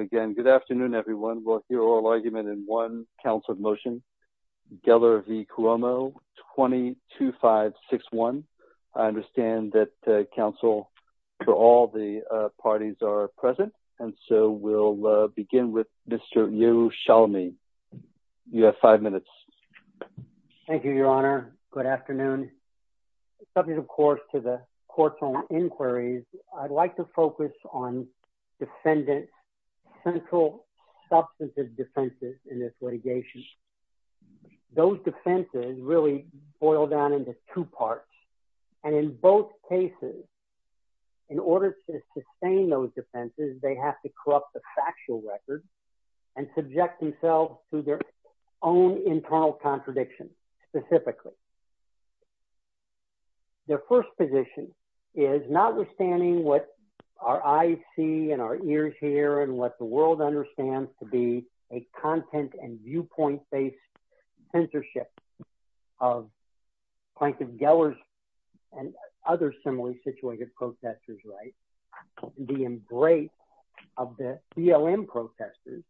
Again, good afternoon everyone. We'll hear oral argument in one council motion. Geller v. Cuomo 20-2561. I understand that council for all the parties are present and so we'll begin with Mr. Yerushalami. You have five minutes. Thank you, your honor. Good afternoon. Subject of course to the court's own inquiries, I'd like to focus on defendant's central substantive defenses in this litigation. Those defenses really boil down into two parts. And in both cases, in order to sustain those defenses, they have to corrupt the factual record and subject themselves to their own internal contradictions specifically. Their first position is not understanding what our eyes see and our ears hear and what the world understands to be a content and viewpoint-based censorship of Plankton Geller's and other similarly-situated protesters, right? The embrace of the BLM protesters.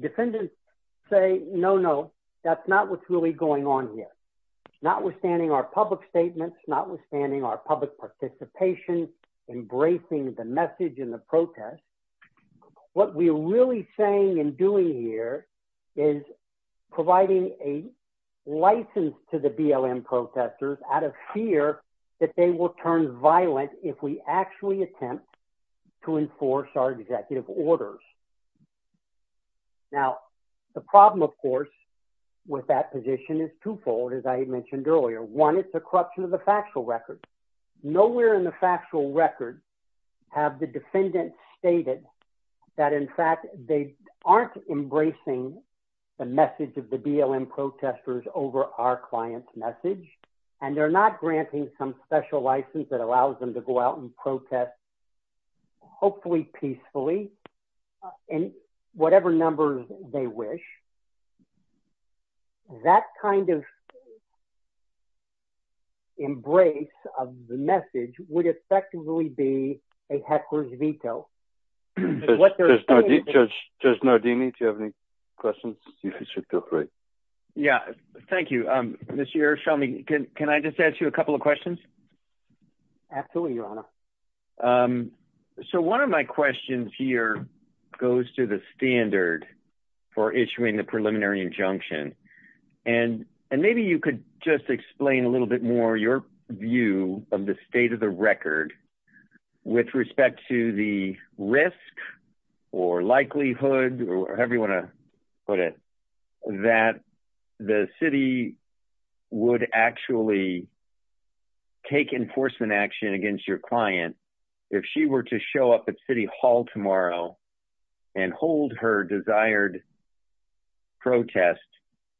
Defendants say, no, no, that's not what's really going on here. Notwithstanding our public statements, notwithstanding our public participation, embracing the message in the protest, what we're really saying and doing here is providing a license to the BLM protesters out of fear that they will turn violent if we actually attempt to enforce our executive orders. Now, the problem of course with that position is twofold, as I had mentioned earlier. One, it's the corruption of the factual record. Nowhere in the factual record have the defendants stated that in fact they aren't embracing the message of the BLM protesters over our client's message, and they're not granting some special license that allows them to go out and protest hopefully peacefully in whatever numbers they wish. That kind of embrace of the message would effectively be a heckler's veto. Judge Nardini, do you have any questions? Yeah, thank you. Mr. Irshami, can I just ask you a couple of questions? Absolutely, your honor. So one of my questions here goes to the standard for issuing the preliminary injunction, and maybe you could just explain a little bit more your view of the state of the record with respect to the risk or likelihood, or however you want to put it, that the city would actually take enforcement action against your client if she were to show up at city hall tomorrow and hold her desired protest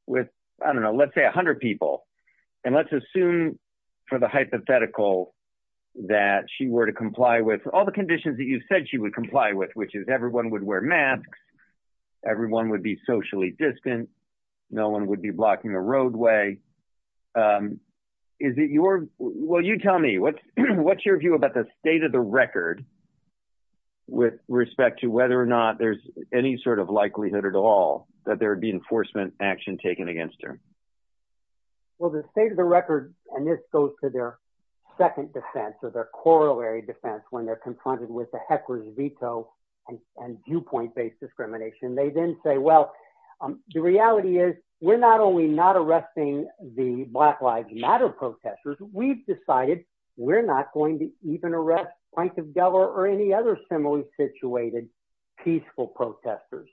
with, I don't know, let's say a hundred people, and let's assume for the hypothetical that she were to comply with all the conditions that you said she would comply with, which is everyone would wear masks, everyone would be socially distant, no one would be blocking a roadway. Is it your, well you tell me, what's your view about the state of the record with respect to whether or not there's any sort of likelihood at all that there would be enforcement action taken against her? Well, the state of the record, and this goes to their second defense, or their corollary defense, when they're confronted with the heckler's veto and viewpoint-based discrimination, they then say, well, the reality is we're not only not arresting the Black Lives Matter protesters, we've decided we're not going to even arrest Prince of Delaware or any other similarly situated peaceful protesters.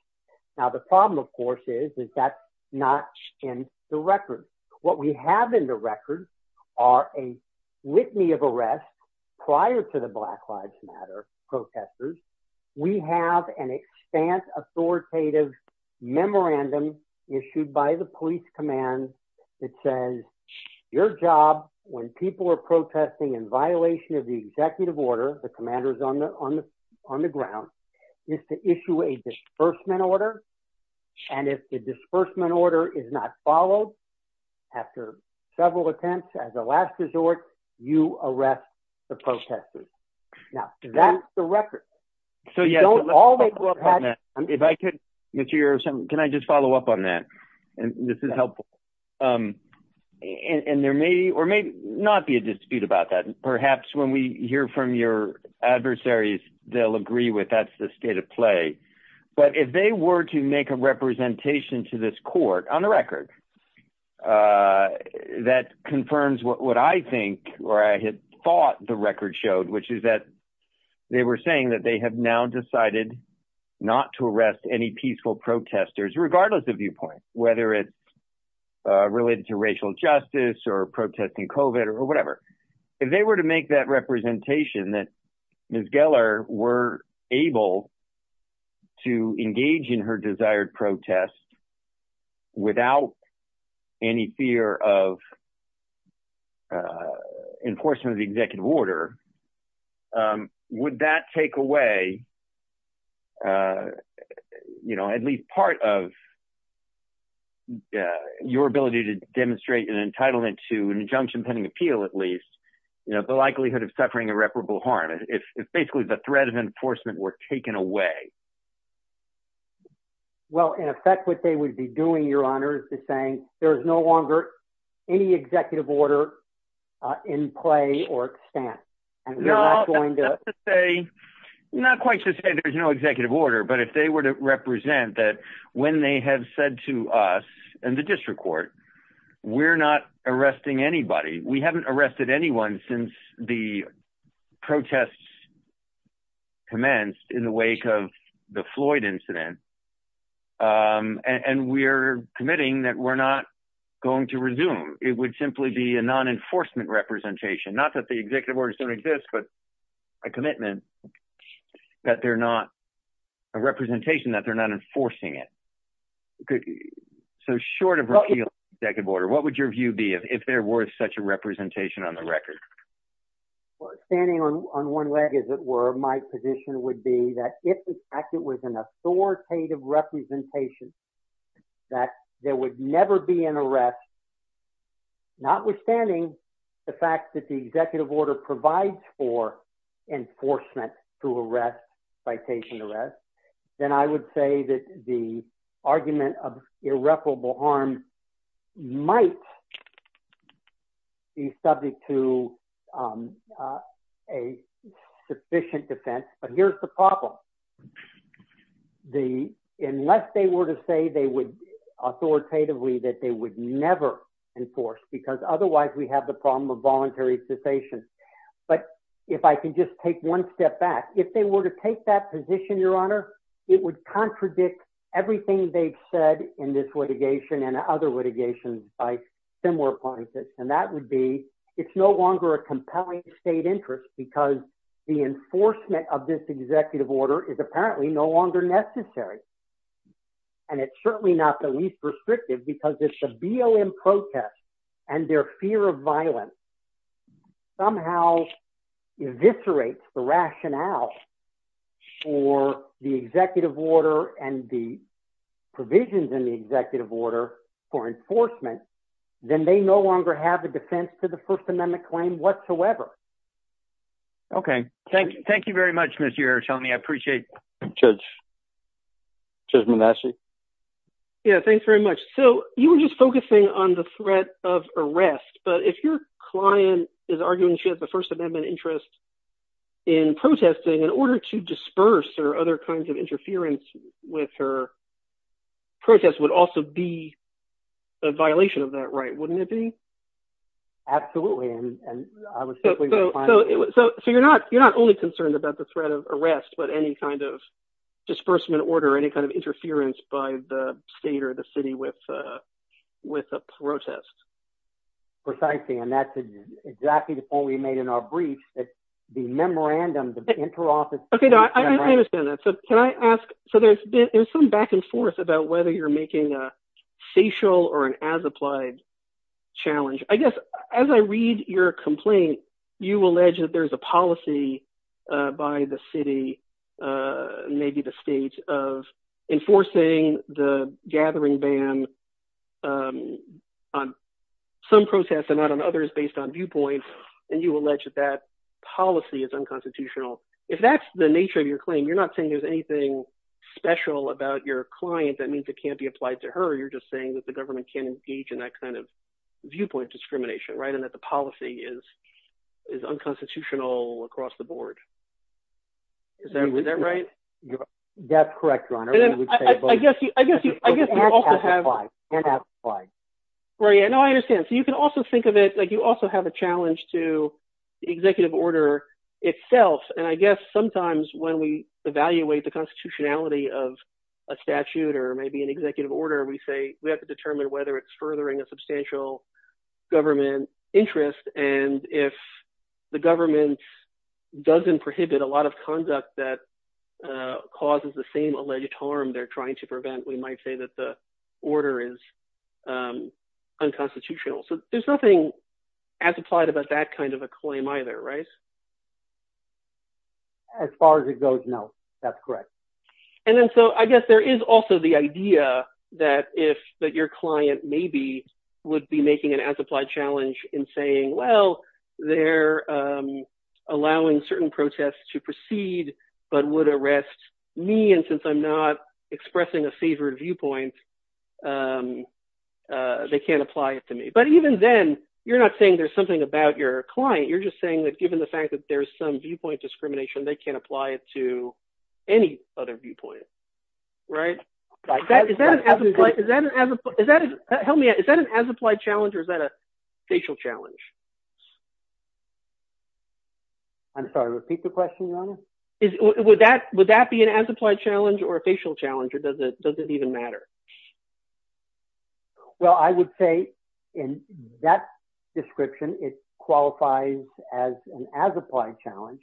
Now the problem, of course, is that's not in the record. What we have in the record are a litany of arrests prior to the Black Lives Matter protesters. We have an expanse authoritative memorandum issued by the police command that says your job when people are protesting in violation of the executive order, the commander's on the on the on the ground, is to issue a disbursement order, and if the disbursement order is not followed after several attempts as a last resort, you arrest the protesters. Now that's the record. So you don't always work on that. Can I just follow up on that? This is helpful. And there may or may not be a dispute about that. Perhaps when we hear from your adversaries, they'll agree with that's the state of play. But if they were to make a representation to this court on the record, that confirms what I think or I had thought the record showed, which is that they were saying that they have now decided not to arrest any peaceful protesters, regardless of viewpoint, whether it's related to racial injustice or protesting COVID or whatever. If they were to make that representation that Ms. Geller were able to engage in her desired protest without any fear of enforcement of the executive order, would that take away at least part of your ability to demonstrate an entitlement to an injunction pending appeal, at least, the likelihood of suffering irreparable harm? If basically the threat of enforcement were taken away? Well, in effect, what they would be doing, Your Honor, is to saying there is no longer any executive order in play or stance. Not quite to say there's no executive order, but if they were to represent that when they have said to us and the district court, we're not arresting anybody. We haven't arrested anyone since the protests commenced in the wake of the Floyd incident, and we're committing that we're not going to resume. It would simply be a non-enforcement representation, not that the executive orders don't exist, but a commitment that they're not a representation, that they're not enforcing it. So short of repealing the executive order, what would your view be if there was such a representation on the record? Well, standing on one leg, as it were, my position would be that if, in fact, it was an authoritative representation, that there would never be an arrest, notwithstanding the fact that the executive order provides for enforcement to arrest, citation arrest, then I would say that the argument of irreparable harm might be subject to a sufficient defense, but here's the problem. Unless they were to say they would authoritatively that they would never enforce, because otherwise we have the problem of voluntary cessation, but if I can just take one step back, if they were to take that position, your honor, it would contradict everything they've said in this litigation and other litigations by similar places, and that would be it's no longer a compelling state interest because the enforcement of this executive order is apparently no longer necessary, and it's certainly not the least restrictive because it's a BOM protest, and their rationale for the executive order and the provisions in the executive order for enforcement, then they no longer have a defense to the First Amendment claim whatsoever. Okay, thank you very much, Mr. Ertelny. I appreciate that. Judge Manassi? Yeah, thanks very much. So, you were just focusing on the threat of arrest, but if your client is protesting, in order to disperse or other kinds of interference with her protest would also be a violation of that right, wouldn't it be? Absolutely. So, you're not only concerned about the threat of arrest, but any kind of disbursement order, any kind of interference by the state or the city with a protest. Precisely, and that's exactly the point we made in our random interoffice. Okay, I understand that. So, can I ask, so there's some back and forth about whether you're making a facial or an as-applied challenge. I guess as I read your complaint, you allege that there's a policy by the city, maybe the state, of enforcing the gathering ban on some protests and not on others based on viewpoints, and you allege that that policy is unconstitutional. If that's the nature of your claim, you're not saying there's anything special about your client that means it can't be applied to her, or you're just saying that the government can't engage in that kind of viewpoint discrimination, right, and that the policy is unconstitutional across the board. Is that right? That's correct, your honor. Right, and I understand. So, you can also think of it like you also have a challenge to executive order itself, and I guess sometimes when we evaluate the constitutionality of a statute or maybe an executive order, we say we have to determine whether it's furthering a substantial government interest, and if the government doesn't prohibit a lot of conduct that causes the same alleged harm they're trying to prevent, we might say that the order is unconstitutional. So, there's nothing as applied about that kind of a claim either, right? As far as it goes, no, that's correct. And then, so, I guess there is also the idea that if that your client maybe would be making an as-applied challenge in saying, well, they're allowing certain protests to proceed but would arrest me, and since I'm not expressing a favored viewpoint, they can't apply it to me. But even then, you're not saying there's something about your client. You're just saying that given the fact that there's some viewpoint discrimination, they can't apply it to any other viewpoint, right? Is that an as-applied challenge or is that a facial challenge? I'm sorry, repeat the question, your honor. Would that be an as-applied challenge or a facial challenge or does it even matter? Well, I would say in that description, it qualifies as an as-applied challenge,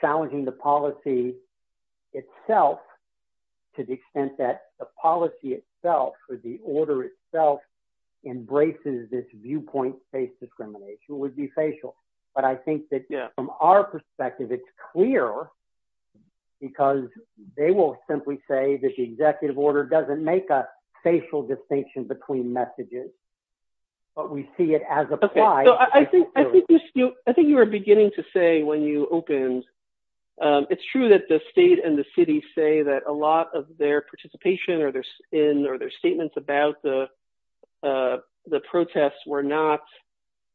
challenging the policy itself to the extent that the policy itself or the order itself embraces this viewpoint-based discrimination would be facial. But I think that from our because they will simply say that the executive order doesn't make a facial distinction between messages, but we see it as applied. So, I think you were beginning to say when you opened, it's true that the state and the city say that a lot of their participation or their statements about the protests were not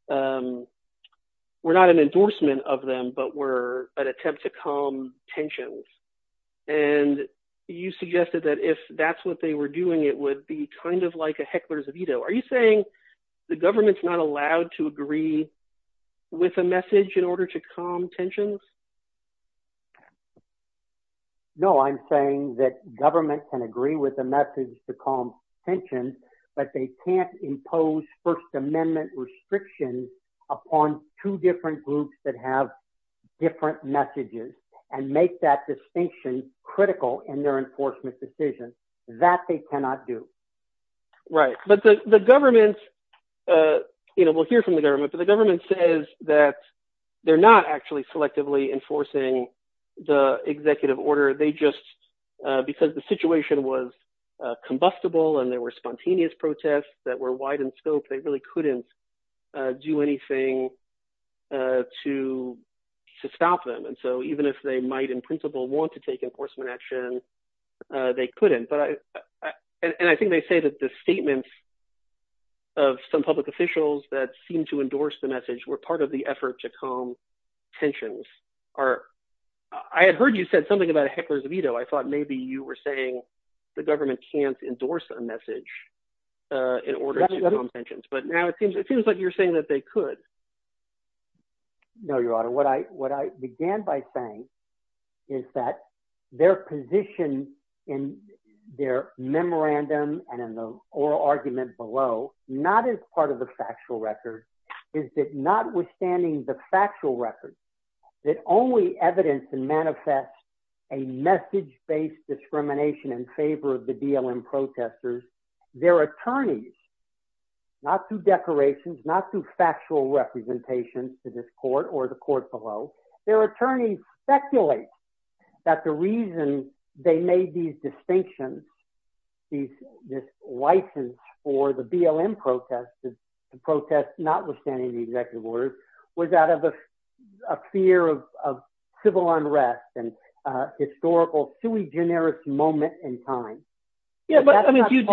an endorsement of them, but were an attempt to calm tensions. And you suggested that if that's what they were doing, it would be kind of like a heckler's veto. Are you saying the government's not allowed to agree with a message in order to calm tensions? No, I'm saying that government can agree with the message to calm tensions, but they can't groups that have different messages and make that distinction critical in their enforcement decisions. That they cannot do. Right. But the government, you know, we'll hear from the government, but the government says that they're not actually selectively enforcing the executive order. They just, because the situation was combustible and there were to stop them. And so even if they might in principle want to take enforcement action, they couldn't. And I think they say that the statements of some public officials that seem to endorse the message were part of the effort to calm tensions. I had heard you said something about a heckler's veto. I thought maybe you were saying the government can't endorse a message in order to calm tensions. But now it seems like you're saying that they could. No, Your Honor. What I began by saying is that their position in their memorandum and in the oral argument below, not as part of the factual record, is that notwithstanding the factual record, that only evidence to manifest a message-based discrimination in favor of the BLM below, their attorney speculates that the reason they made these distinctions, this license for the BLM protest, the protest notwithstanding the executive order, was out of a fear of civil unrest and historical sui generis moment in time. Yeah, but I mean, do you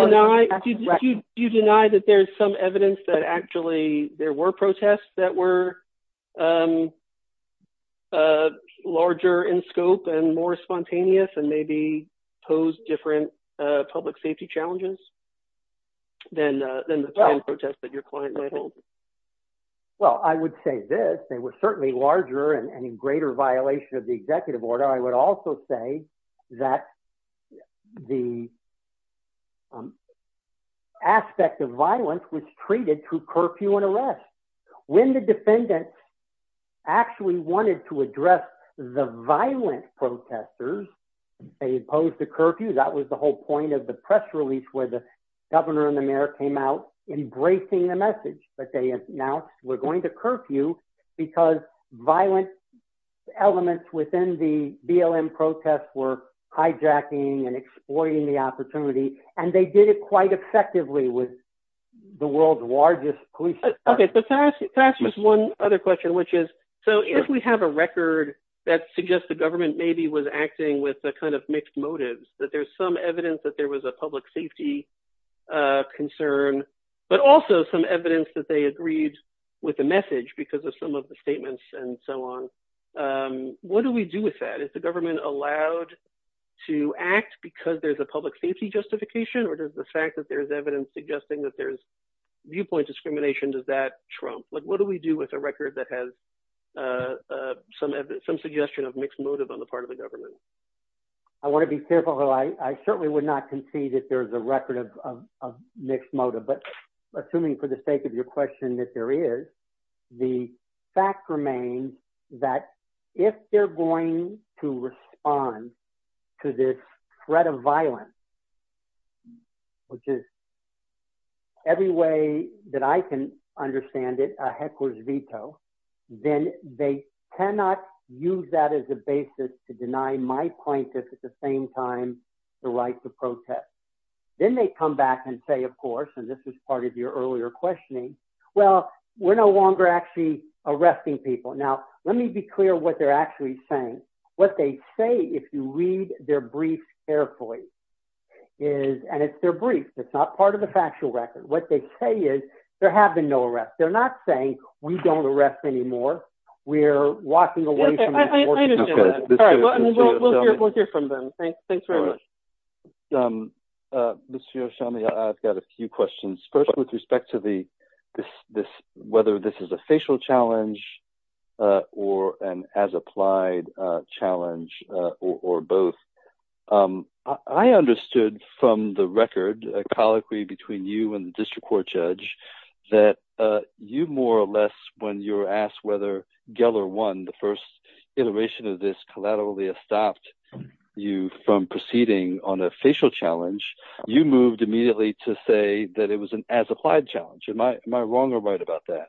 deny that there's some evidence that actually there were protests that were larger in scope and more spontaneous and maybe pose different public safety challenges than the protest that your client mentioned? Well, I would say this. They were certainly larger and in greater violation of the executive order. I would also say that the aspect of violence was treated through curfew and arrest. When the defendant actually wanted to address the violent protesters, they imposed a curfew. That was the whole point of the press release where the governor and the mayor came out embracing the message. But they announced, we're going to curfew because violent elements within the BLM protests were hijacking and effectively with the world's largest police force. Okay, so to ask just one other question, which is, so if we have a record that suggests the government maybe was acting with a kind of mixed motives, that there's some evidence that there was a public safety concern, but also some evidence that they agreed with the message because of some of the statements and so on. What do we do with that? Is the government allowed to act because there's a public safety justification or does the fact that there's evidence suggesting that there's viewpoint discrimination, does that trump? What do we do with a record that has some suggestion of mixed motive on the part of the government? I want to be careful though. I certainly would not concede that there's a record of mixed motive, but assuming for the sake of your question that there is, the fact remains that if they're going to respond to this threat of violence, which is every way that I can understand it, a heckler's veto, then they cannot use that as a basis to deny my plaintiff at the same time the right to protest. Then they come back and say, of course, and this is part of your earlier questioning, well, we're no longer actually arresting people. Now, let me be clear what they're actually saying. What they say, if you read their briefs carefully, is, and it's their brief, it's not part of the factual record. What they say is there have been no arrests. They're not saying we don't arrest anymore. We're walking away from- Okay, I understand that. We'll hear from them. Thanks very much. Mr. Yoshimi, I've got a few questions. First, with respect to whether this is a facial challenge or an as-applied challenge or both. I understood from the record, a colloquy between you and the district court judge, that you more or less, when you were asked whether Geller won the first iteration of this collaterally stopped you from proceeding on a facial challenge, you moved immediately to say that it was an as-applied challenge. Am I wrong or right about that?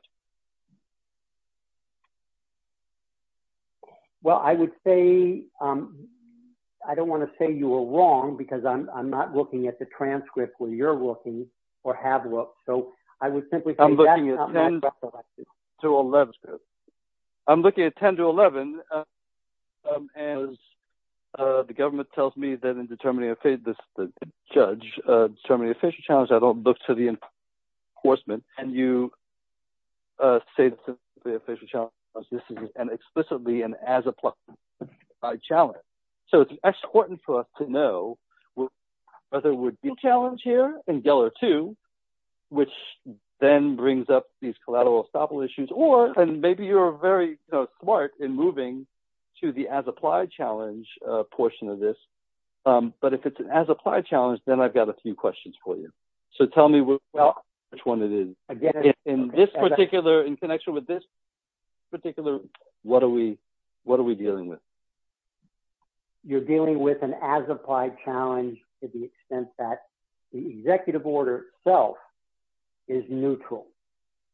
Well, I would say, I don't want to say you were wrong because I'm not looking at the transcript where you're looking or have looked. So, I would simply say that's not correct. I'm looking at 10 to 11. As the government tells me that in determining a face, this judge, determining a facial challenge, I don't look to the enforcement and you say it's a facial challenge. This is explicitly an as-applied challenge. So, it's important for us to know whether it would be a challenge here in Geller 2, which then brings up these collateral estoppel issues, or maybe you're very smart in moving to the as-applied challenge portion of this. But if it's an as-applied challenge, then I've got a few questions for you. So, tell me which one it is. In connection with this particular, what are we dealing with? You're dealing with an as-applied challenge to the extent that the executive order itself is neutral,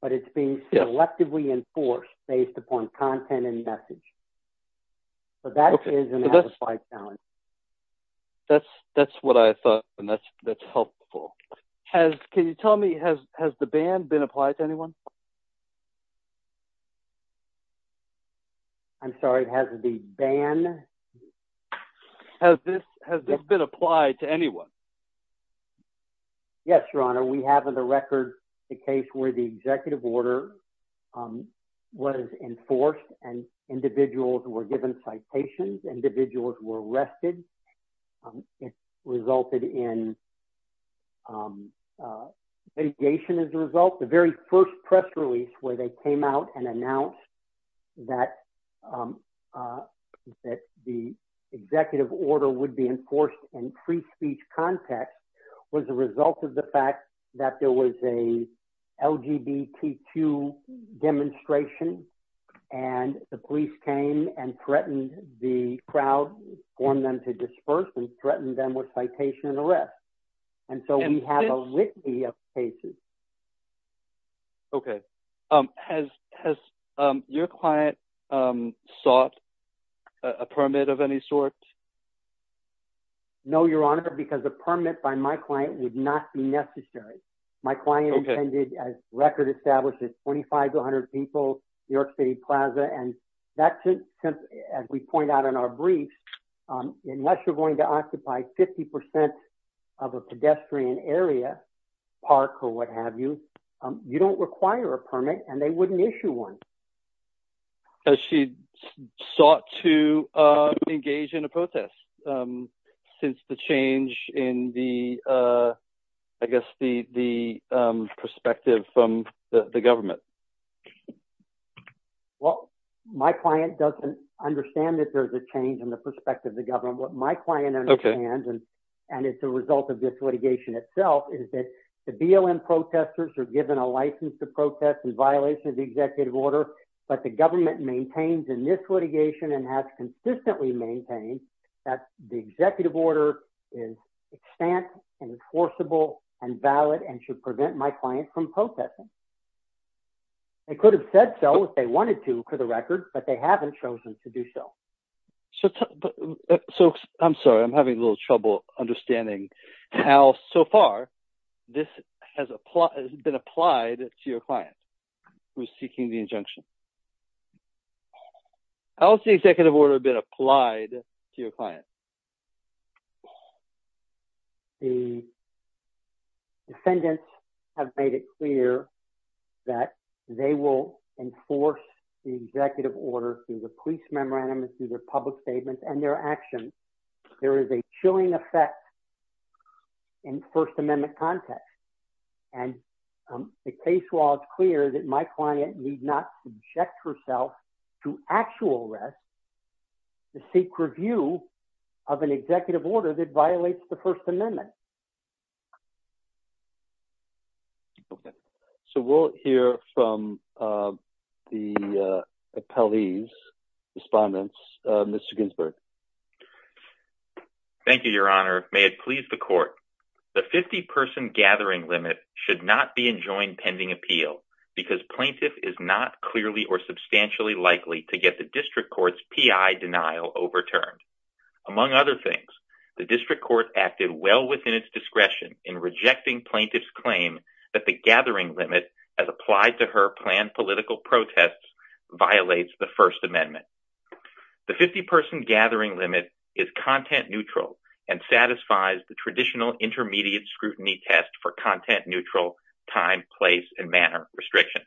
but it's being selectively enforced based upon content and message. So, that is an as-applied challenge. That's what I thought, and that's helpful. Can you tell me, has the ban been applied to anyone? I'm sorry, has the ban? Has this been applied to anyone? Yes, Your Honor. We have on the record the case where the executive order was enforced and individuals were given citations, individuals were arrested. It resulted in litigation as a result. The very first press release where they came out and announced that the executive order would be enforced in free speech context was a result of the fact that there was a LGBT2 demonstration, and the police came and threatened the crowd, formed them to disperse and threatened them with citation and arrest. And so, we have a litany of cases. Okay. Has your client sought a permit of any sort? No, Your Honor, because a permit by my client would not be necessary. My client intended, as record establishes, 2,500 people, New York City Plaza, and that's it. As we point out in our brief, unless you're going to occupy 50% of a pedestrian area, park or what have you, you don't require a permit and they wouldn't issue one. Has she sought to engage in a protest since the change in the perspective from the government? Well, my client doesn't understand that there's a change in the perspective of the government. What my client understands, and it's the result of this litigation itself, is that the BLM protesters are given a license to protest in violation of the executive order, but the government maintains in this litigation and has consistently maintained that the executive order is stance and enforceable and valid and should prevent my client from They could have said so if they wanted to, for the record, but they haven't chosen to do so. So, I'm sorry, I'm having a little trouble understanding how, so far, this has been applied to your client who is seeking the injunction. How has the executive order been applied to your client? Well, the defendants have made it clear that they will enforce the executive order through the police memorandum and through their public statements and their actions. There is a chilling effect in First Amendment context, and the case law is clear that my client need not subject herself to actual arrest to seek review of an executive order that violates the First Amendment. So, we'll hear from the appellee's respondents. Mr. Ginsburg. Thank you, Your Honor. May it please the court. The 50-person gathering limit should not be pending appeal because plaintiff is not clearly or substantially likely to get the district court's P.I. denial overturned. Among other things, the district court acted well within its discretion in rejecting plaintiff's claim that the gathering limit as applied to her planned political protests violates the First Amendment. The 50-person gathering limit is content neutral and place and manner restriction.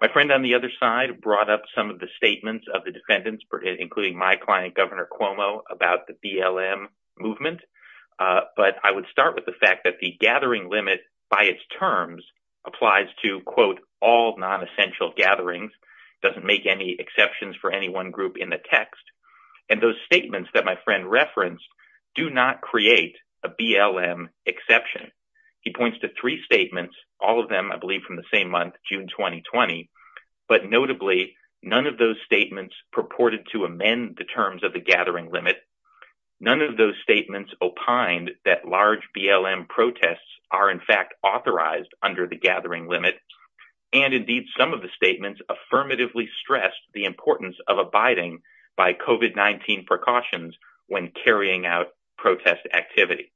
My friend on the other side brought up some of the statements of the defendants, including my client, Governor Cuomo, about the BLM movement, but I would start with the fact that the gathering limit by its terms applies to, quote, all non-essential gatherings, doesn't make any exceptions for any one group in the text, and those statements that my friend referenced do not create a BLM exception. He points to three statements, all of them, I believe, from the same month, June 2020, but notably, none of those statements purported to amend the terms of the gathering limit. None of those statements opined that large BLM protests are, in fact, authorized under the gathering limit, and, indeed, some of the statements affirmatively stress the importance of abiding by COVID-19 precautions when carrying out protest activity.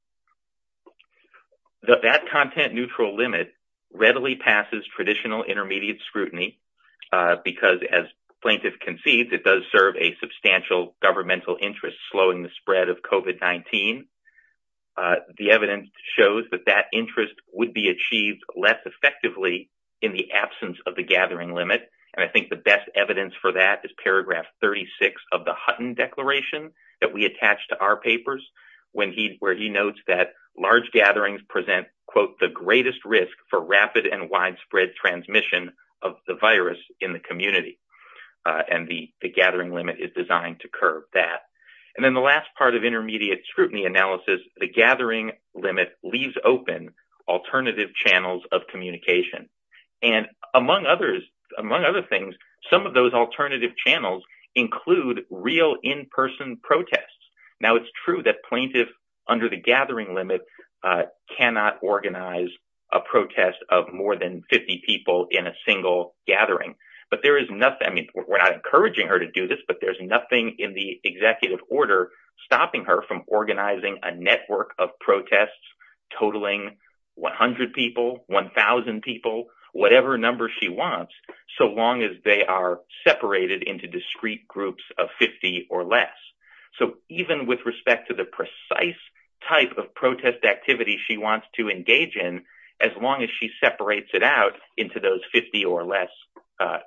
That content neutral limit readily passes traditional intermediate scrutiny because, as plaintiff concedes, it does serve a substantial governmental interest, slowing the spread of COVID-19. The evidence shows that that interest would be achieved less effectively in the absence of the gathering limit, and I think the best evidence for that is when he notes that large gatherings present, quote, the greatest risk for rapid and widespread transmission of the virus in the community, and the gathering limit is designed to curb that. And then the last part of intermediate scrutiny analysis, the gathering limit leaves open alternative channels of communication, and among other things, some of those alternative channels include real in-person protests. Now, it's true that plaintiffs under the gathering limit cannot organize a protest of more than 50 people in a single gathering, but there is nothing—I mean, we're not encouraging her to do this, but there's nothing in the executive order stopping her from organizing a network of protests totaling 100 people, 1,000 people, whatever number she wants, so long as they are separated into discrete groups of 50 or less. So, even with respect to the precise type of protest activity she wants to engage in, as long as she separates it out into those 50 or less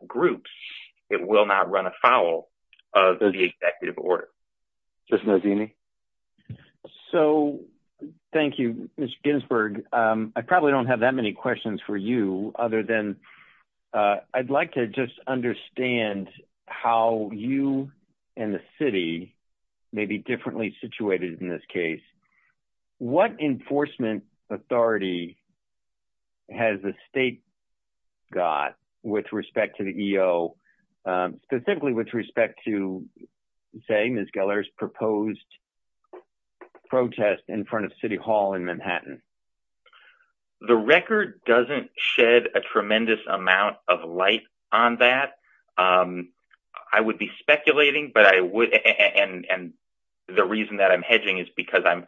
groups, it will not run afoul of the executive order. Justine O'Dooney. So, thank you, Mr. Ginsburg. I probably don't have that many questions for you other than I'd like to just understand how you and the city may be differently situated in this case. What enforcement authority has the state got with respect to the EO, specifically with respect to, say, Ms. Gellar's proposed protest in front of City Hall in doesn't shed a tremendous amount of light on that. I would be speculating, but I would—and the reason that I'm hedging is because I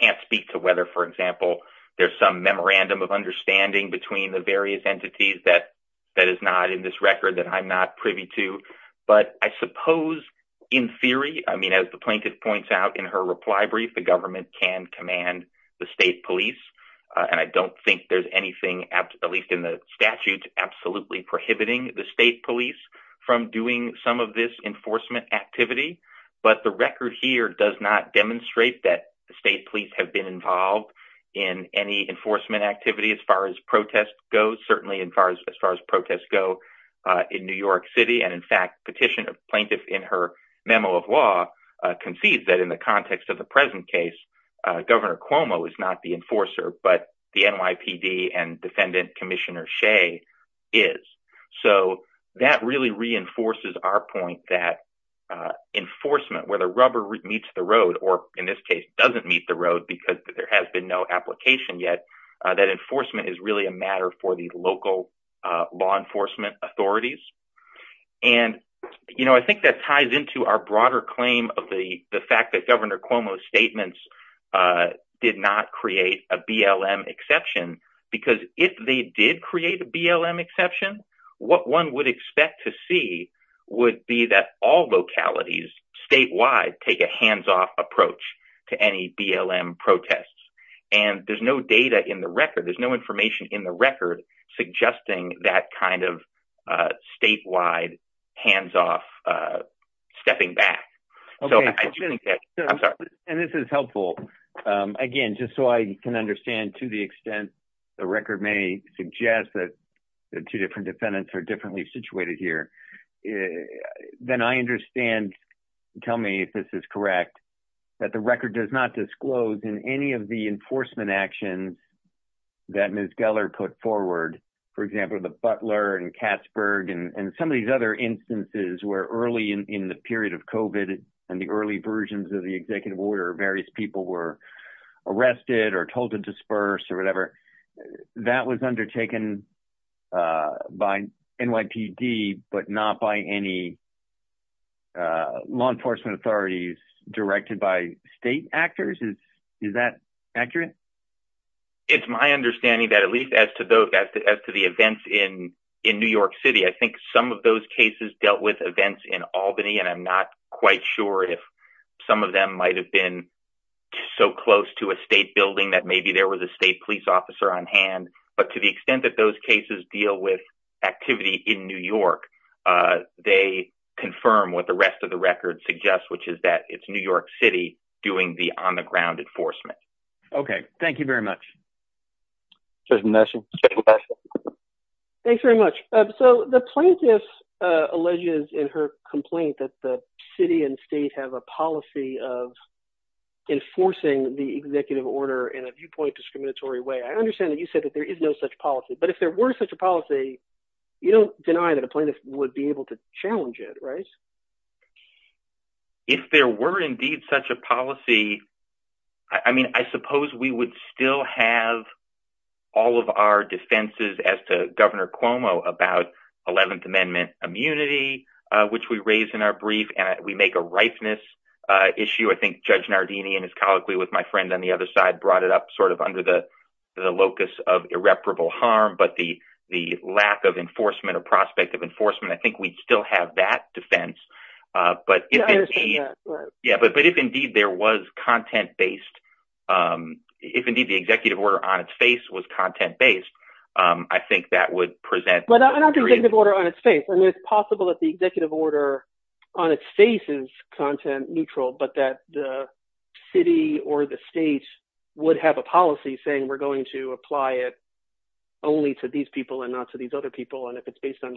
can't speak to whether, for example, there's some memorandum of understanding between the various entities that is not in this record that I'm not privy to, but I suppose in theory—I mean, as the plaintiff points out in her reply the government can command the state police, and I don't think there's anything, at least in the statute, absolutely prohibiting the state police from doing some of this enforcement activity, but the record here does not demonstrate that the state police have been involved in any enforcement activity as far as protests go, certainly as far as protests go in New York City, and in fact petitioner plaintiff in her memo of law concedes that in the context of the present case Governor Cuomo is not the enforcer, but the NYPD and defendant Commissioner Shea is. So that really reinforces our point that enforcement, where the rubber meets the road, or in this case doesn't meet the road because there has been no application yet, that enforcement is really a matter for the local law enforcement authorities. And, you know, I think that ties into our broader claim of the the fact that Governor Cuomo's statements did not create a BLM exception, because if they did create a BLM exception, what one would expect to see would be that all localities statewide take a hands-off approach to any BLM protests, and there's no data in the record, there's no information in the record suggesting that kind of statewide hands-off stepping back. And this is helpful, again just so I can understand to the extent the record may suggest that the two different defendants are differently situated here, then I understand, tell me if this is correct, that the record does not disclose in any of the for example the Butler and Katzberg and some of these other instances where early in the period of COVID and the early versions of the executive order various people were arrested or told to disperse or whatever, that was undertaken by NYPD but not by any law enforcement authorities directed by state actors? Is that accurate? It's my understanding that at least as to those events in New York City, I think some of those cases dealt with events in Albany and I'm not quite sure if some of them might have been so close to a state building that maybe there was a state police officer on hand, but to the extent that those cases deal with activity in New York, they confirm what the rest of the record suggests, which is that it's New York City doing the on-the-ground enforcement. Okay, thank you very much. Judge Nelson? Thanks very much. So the plaintiff alleges in her complaint that the city and state have a policy of enforcing the executive order in a viewpoint discriminatory way. I understand that you said that there is no such policy, but if there were such a policy, you don't deny that a plaintiff would be able to challenge it, right? If there were indeed such a policy, I mean, I suppose we would still have all of our defenses as to Governor Cuomo about 11th Amendment immunity, which we raised in our brief and we make a ripeness issue. I think Judge Nardini and his colleague with my friend on the other side brought it up sort of under the locus of irreparable harm, but the lack of enforcement of enforcement, I think we'd still have that defense, but if indeed there was content-based, if indeed the executive order on its face was content-based, I think that would present- But not the executive order on its face. I mean, it's possible that the executive order on its face is content-neutral, but that the city or the state would have a policy saying we're going to apply it only to these people and not to these other people, and if it's based on-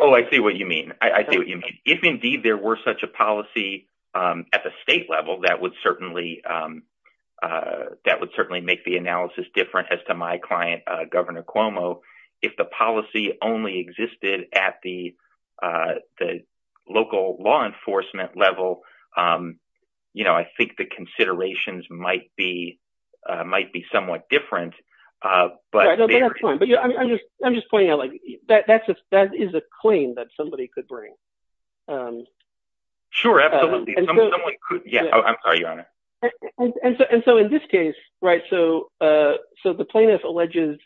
Oh, I see what you mean. I see what you mean. If indeed there were such a policy at the state level, that would certainly make the analysis different as to my client, Governor Cuomo. If the policy only existed at the local law enforcement level, I think the considerations might be somewhat different, but- Yeah, but I'm just pointing out that that is a claim that somebody could bring. Sure, absolutely. Yeah, I'm sorry, Your Honor. And so in this case, right, so the plaintiff alleges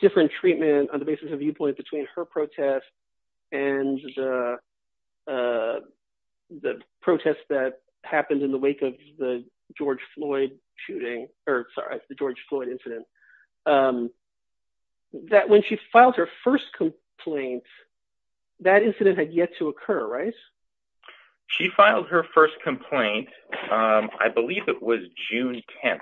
different treatment on the basis of between her protest and the protest that happened in the wake of the George Floyd shooting, or sorry, the George Floyd incident, that when she filed her first complaint, that incident had yet to occur, right? She filed her first complaint, I believe it was June 10th,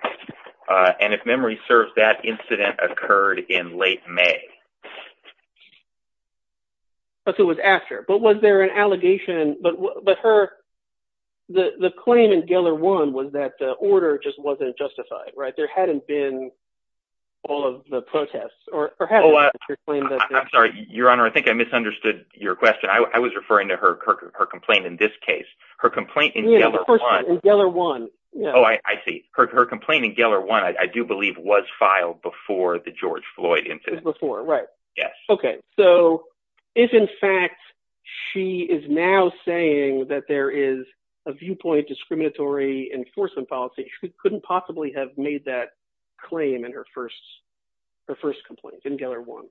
and if memory serves, that incident occurred in late May. Oh, so it was after, but was there an allegation, but her- the claim in Geller 1 was that the order just wasn't justified, right? There hadn't been all of the protests, or perhaps your claim- I'm sorry, Your Honor, I think I misunderstood your question. I was referring to her complaint in this case. Her complaint in Geller 1- Yeah, of course, in Geller 1. Oh, I see. Her complaint in Geller 1, I do believe, was filed before the George Floyd incident. Before, right. Yes. Okay, so if in fact she is now saying that there is a viewpoint discriminatory enforcement policy, she couldn't possibly have made that claim in her first complaint, in Geller 1.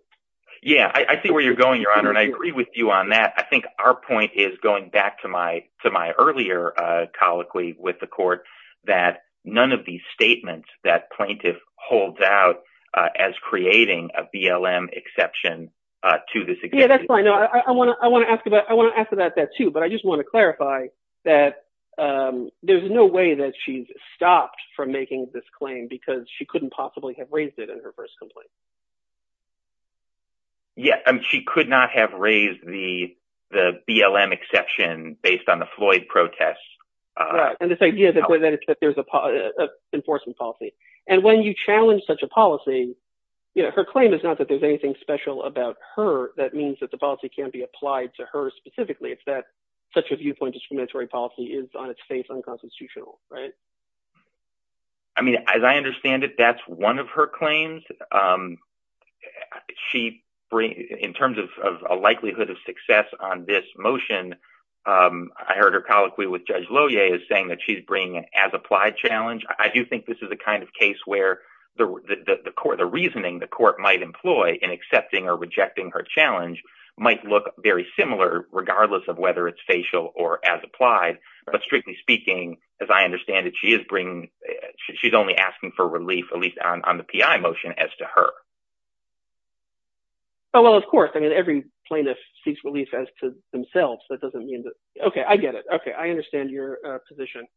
Yeah, I see where you're going, Your Honor, and I agree with you on that. I think our point is going back to my earlier colloquy with the court that none of these statements that plaintiff holds out as creating a BLM exception to this- Yeah, that's fine. No, I want to ask about that too, but I just want to clarify that there's no way that she's stopped from making this claim because she couldn't possibly have raised it in her first complaint. Yeah, I mean, she could not have raised the BLM exception based on the Floyd protests. Right, and this idea that there's an enforcement policy. And when you challenge such a policy, her claim is not that there's anything special about her. That means that the policy can't be applied to her specifically, it's that such a viewpoint discriminatory policy is on its face unconstitutional, right? I mean, as I understand it, that's one of her claims. And in terms of a likelihood of success on this motion, I heard her colloquy with Judge Lohier is saying that she's bringing an as-applied challenge. I do think this is a kind of case where the reasoning the court might employ in accepting or rejecting her challenge might look very similar regardless of whether it's facial or as-applied. But strictly speaking, as I to her. Oh, well, of course. I mean, every plaintiff seeks relief as to themselves. That doesn't mean that... Okay, I get it. Okay, I understand your position.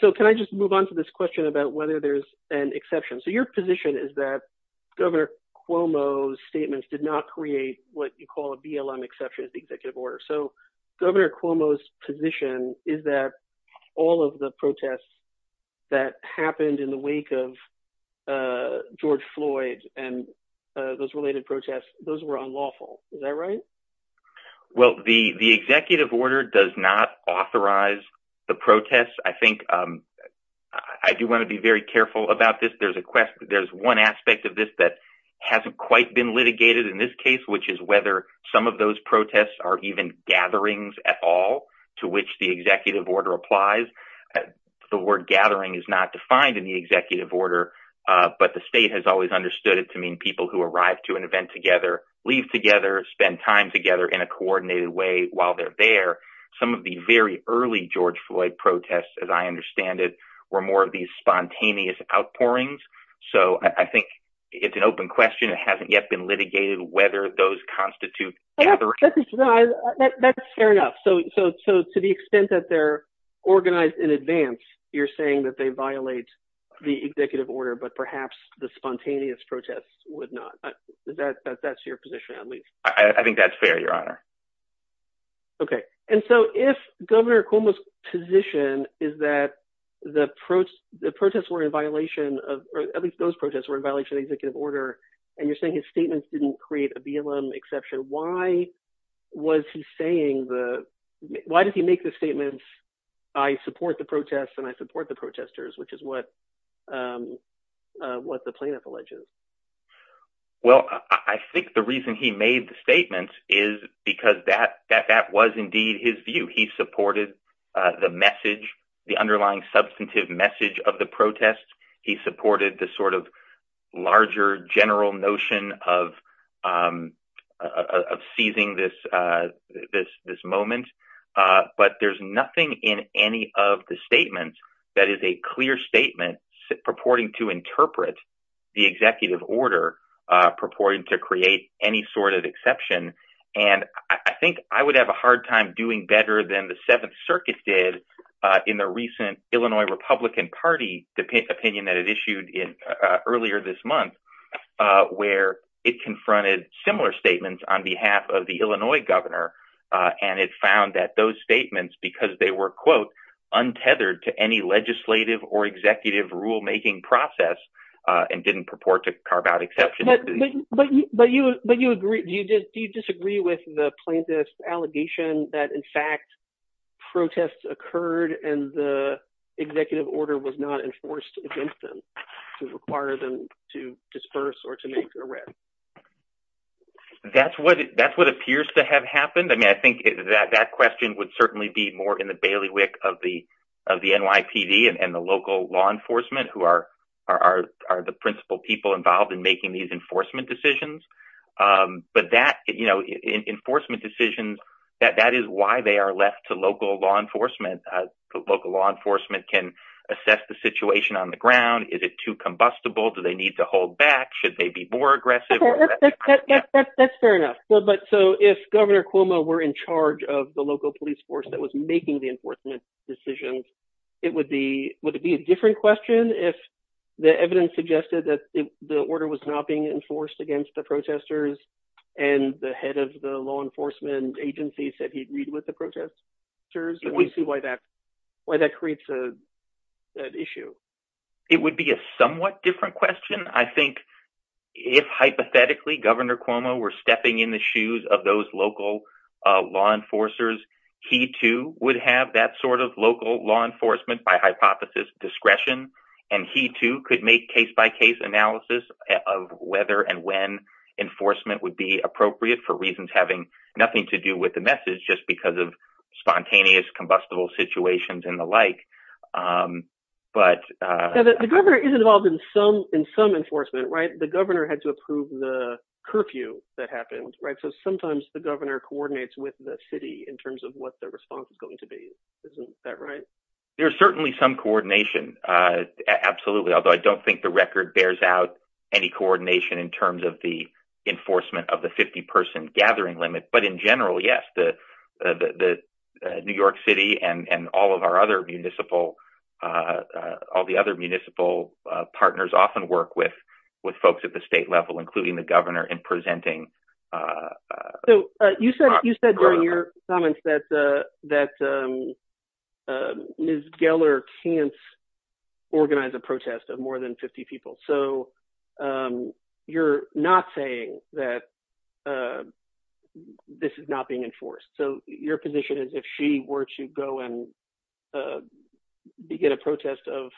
So can I just move on to this question about whether there's an exception? So your position is that Governor Cuomo's statements did not create what you call a BLM exception as the executive order. So Governor Cuomo's position is that all of the protests that happened in the wake of George Floyd and those related protests, those were unlawful. Is that right? Well, the executive order does not authorize the protests. I think I do want to be very careful about this. There's a question. There's one aspect of this that hasn't quite been litigated in this case, which is whether some of those protests are even gatherings at all, to which the executive order applies. The word gathering is not defined in the executive order, but the state has always understood it to mean people who arrive to an event together, leave together, spend time together in a coordinated way while they're there. Some of the very early George Floyd protests, as I understand it, were more of these spontaneous outpourings. So I think it's an open question. It hasn't yet been litigated whether those constitute gatherings. That's fair enough. So to the extent that they're organized in advance, you're saying that they violate the executive order, but perhaps the spontaneous protests would not. That's your position, at least. I think that's fair, Your Honor. Okay. And so if Governor Cuomo's position is that the protests were in violation of, or at least those protests were in violation of the executive order, and you're saying his statements, I support the protests and I support the protesters, which is what the plaintiff alleges. Well, I think the reason he made the statements is because that was indeed his view. He supported the message, the underlying substantive message of the protest. He supported the sort of larger general notion of seizing this moment. But there's nothing in any of the statements that is a clear statement purporting to interpret the executive order, purporting to create any sort of exception. And I think I would have a hard time doing better than the Seventh Circuit did in the recent Illinois Republican Party opinion that it issued earlier this month, where it confronted similar statements on behalf of the Illinois governor. And it found that those statements, because they were, quote, untethered to any legislative or executive rule making process and didn't purport to carve out exception. But do you disagree with the plaintiff's protest occurred and the executive order was not enforced against them to require them to disperse or to make an arrest? That's what appears to have happened. I mean, I think that question would certainly be more in the bailiwick of the NYPD and the local law enforcement who are the principal people involved in making these enforcement decisions. But that, you know, enforcement decisions, that is why they are left to local law enforcement. The local law enforcement can assess the situation on the ground. Is it too combustible? Do they need to hold back? Should they be more aggressive? That's fair enough. But so if Governor Cuomo were in charge of the local police force that was making the enforcement decisions, it would be, would it be a different question if the evidence suggested that the order was not being enforced against the protesters and the head of the law enforcement agency said he agreed with the protesters? We see why that why that creates that issue. It would be a somewhat different question. I think if hypothetically Governor Cuomo were stepping in the shoes of those local law enforcers, he too would have that sort of local law enforcement by hypothesis discretion and he too could make case-by-case analysis of whether and when enforcement would be appropriate for reasons having nothing to do with the message just because of spontaneous combustible situations and the like. But the governor is involved in some in some enforcement, right? The governor had to approve the curfew that happened, right? So sometimes the governor coordinates with the city in terms of what their response is going to be. Isn't that right? There's certainly some coordination. Absolutely. Although I don't think the record bears out any coordination in terms of the enforcement of the 50-person gathering limit. But in general, yes, the New York City and all of our other municipal, all the other municipal partners often work with folks at the state level including the governor in presenting. So you said you said during your comments that Ms. Geller can't organize a protest of more than 50 people. So you're not saying that this is not being enforced. So your position is if she were to go and begin a protest of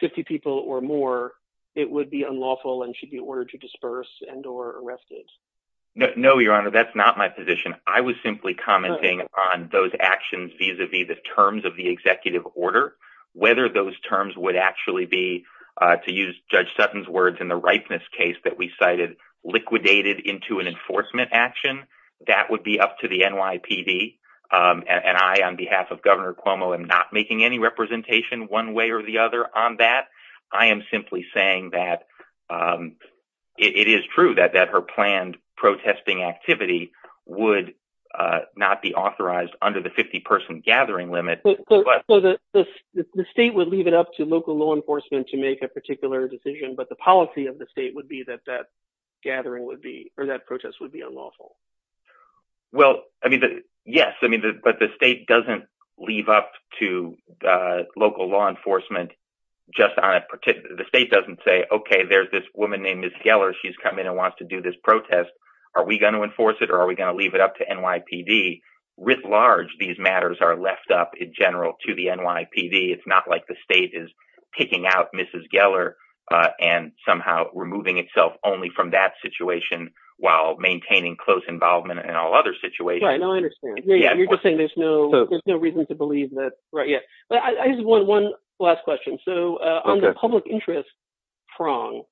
50 people or more, it would be unlawful and should be ordered to disperse and or arrested? No, your honor, that's not my position. I was simply commenting on those actions vis-a-vis the terms of the executive order. Whether those terms would actually be, to use Judge Sutton's words in the ripeness case that we cited, liquidated into an enforcement action, that would be up to the NYPD. And I on behalf of Governor Cuomo am not making any representation one way or the other on that. I am simply saying that it is true that that her planned protesting activity would not be authorized under the 50-person gathering limit. So the state would leave it up to local law enforcement to make a particular decision, but the policy of the state would be that that gathering would be or that protest would be enforced. The state doesn't say, okay, there's this woman named Ms. Geller. She's come in and wants to do this protest. Are we going to enforce it or are we going to leave it up to NYPD? Writ large, these matters are left up in general to the NYPD. It's not like the state is picking out Mrs. Geller and somehow removing itself only from that situation while maintaining close involvement in all other situations. I understand. You're just saying there's no reason to believe that. I just want one last question. So on the public interest prong,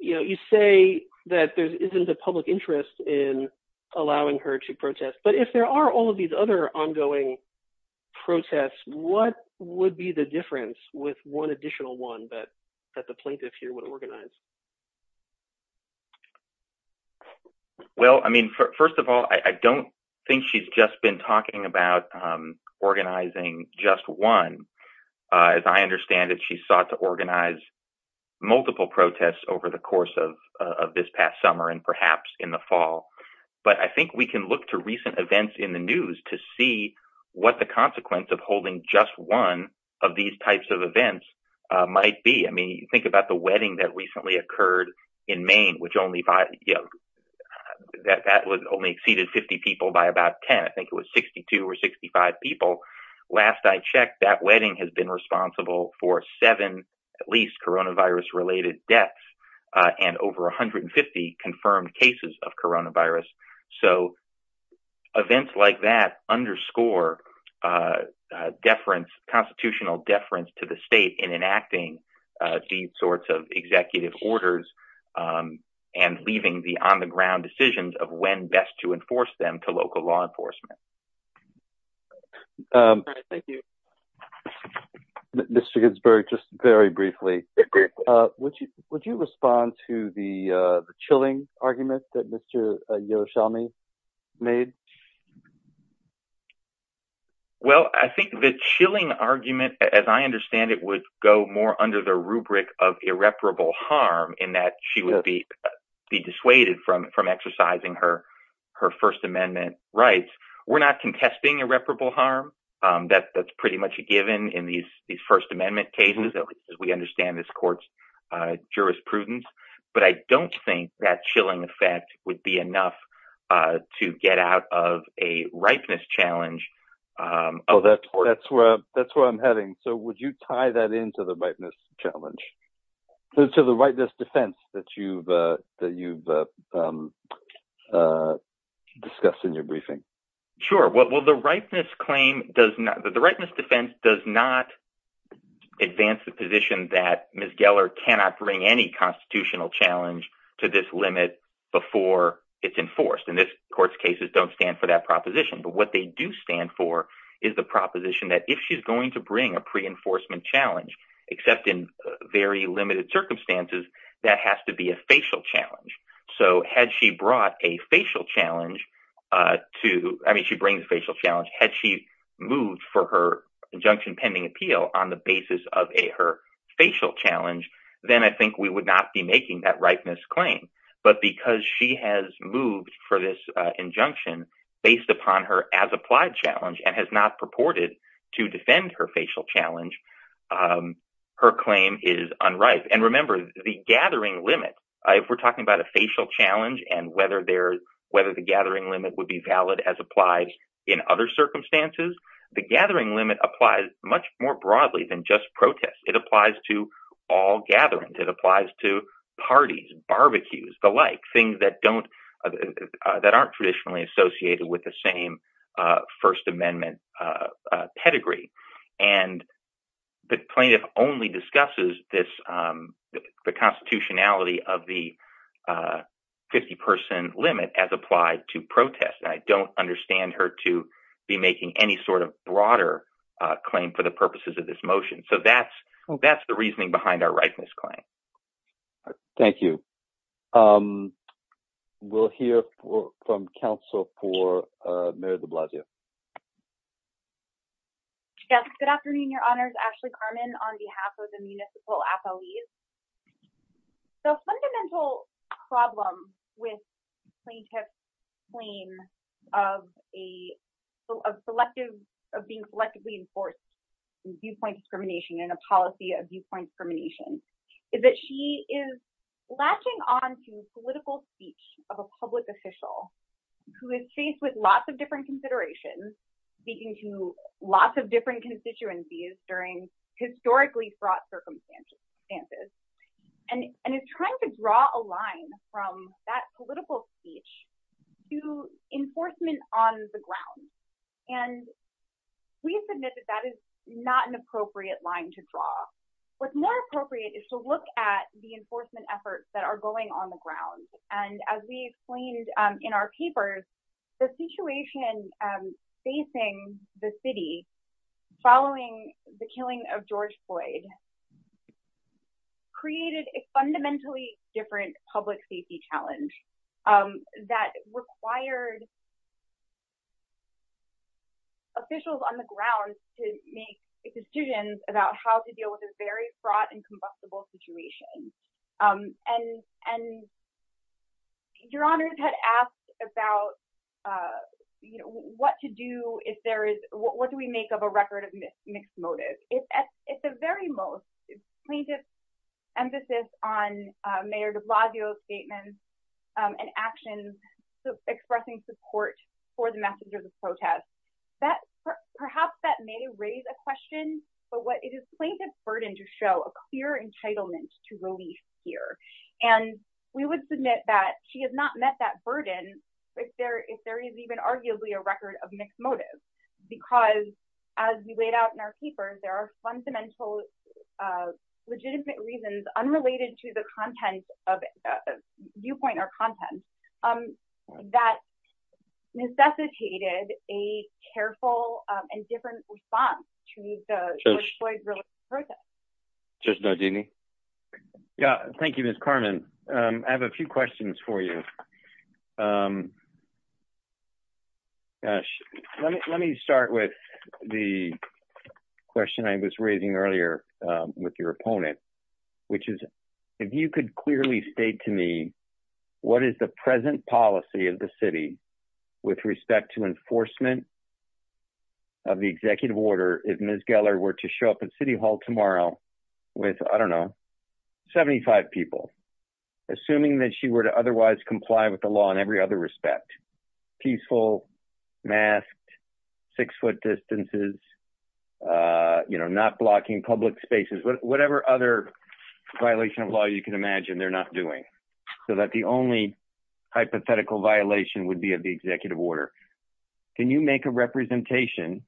you say that there isn't a public interest in allowing her to protest, but if there are all of these other ongoing protests, what would be the difference with one additional one that the plaintiffs here would organize? First of all, I don't think she's just been talking about organizing just one. As I understand it, she sought to organize multiple protests over the course of this past summer and perhaps in the fall. But I think we can look to recent events in the news to see what the consequence of holding just one of these types of events might be. I mean, think about the wedding that recently occurred in Maine, which only exceeded 50 people by about 10. I think it was 62 or 65 people. Last I checked, that wedding has been responsible for seven at least coronavirus related deaths and over 150 confirmed cases of coronavirus. So events like that underscore constitutional deference to the state in enacting these sorts of executive orders and leaving the on-the-ground decisions of when best to enforce them to local law enforcement. Thank you. Mr. Ginsburg, just very briefly, would you respond to the chilling argument that Mr. Yerushalmi made? Well, I think the chilling argument, as I understand it, would go more under the rubric of irreparable harm in that she would be dissuaded from exercising her First Amendment rights. We're not contesting irreparable harm. That's pretty much a given in these First Amendment cases, at least as we understand this court's jurisprudence. But I don't think that chilling effect would be enough to get out of a ripeness challenge. Oh, that's where I'm heading. So would you tie that into the ripeness challenge, to the ripeness defense that you've discussed in your briefing? Sure. Well, the ripeness defense does not advance the position that Ms. Geller cannot bring any constitutional challenge to this limit before it's enforced. And this court's cases don't stand for that proposition. But what they do stand for is the proposition that if she's going to bring a pre-enforcement challenge, except in very limited circumstances, that has to be a facial challenge. So had she brought a facial challenge to, I mean, she brings a facial challenge, had she moved for her injunction pending appeal on the basis of her facial challenge, then I think we would not be making that ripeness claim. But because she has moved for this injunction based upon her as applied challenge and has not purported to defend her facial challenge, her claim is unripe. And remember, the gathering limit, if we're talking about a facial challenge and whether the gathering limit would be valid as applied in other circumstances, the gathering limit applies much more broadly than just protest. It applies to all gatherings. It applies to parties, barbecues, the like, things that aren't traditionally associated with the same First Amendment pedigree. And the plaintiff only discusses the constitutionality of the 50% limit as applied to protest. I don't understand her to be making any sort of broader claim for the purposes of this motion. So that's the reasoning behind our ripeness claim. Thank you. We'll hear from counsel for Mayor de Blasio. Good afternoon, Your Honors. Ashley Carmen on behalf of the municipal affiliates. The fundamental problem with plaintiff's claim of a selective, of being selectively enforced viewpoint discrimination and a policy of viewpoint discrimination is that she is latching on to the political speech of a public official who is faced with lots of different considerations, speaking to lots of different constituencies during historically fraught circumstances. And, and it's trying to draw a line from that political speech to enforcement on the ground. And we submit that that is not an appropriate line to draw. What's more appropriate is to look at the enforcement efforts that are going on the ground. And as we explained in our papers, the situation facing the city, following the killing of George Floyd, created a fundamentally different public safety challenge that required officials on the ground to make decisions about how to deal with a very fraught and combustible situation. And, and Your Honors had asked about, you know, what to do if there is, what do we make of a record of mixed motive? If at the very most, plaintiff's emphasis on Mayor de Blasio's statements and actions, expressing support for the message of the protest, that perhaps that may raise a question, but what it is plaintiff's burden to show a clear entitlement to release here. And we would submit that she has not met that burden if there, if there is even arguably a record of mixed motive, because as we laid out in our papers, there are fundamental legitimate reasons unrelated to the content of viewpoint or content that necessitated a careful and different response to the George Floyd related protest. Judge Nardini. Yeah. Thank you, Ms. Carmen. I have a few questions for you. Let me start with the question I was raising earlier with your opponent, which is, if you could clearly state to me, what is the present policy of the city with respect to enforcement of the executive order? If Ms. Geller were to show up at city hall tomorrow with, I don't know, 75 people, assuming that she were to otherwise comply with the law in every other respect, peaceful masks, six foot distances, you know, not blocking public spaces, whatever other violation of law you can imagine they're not doing so that the only hypothetical violation would be of the executive order. Can you make a representation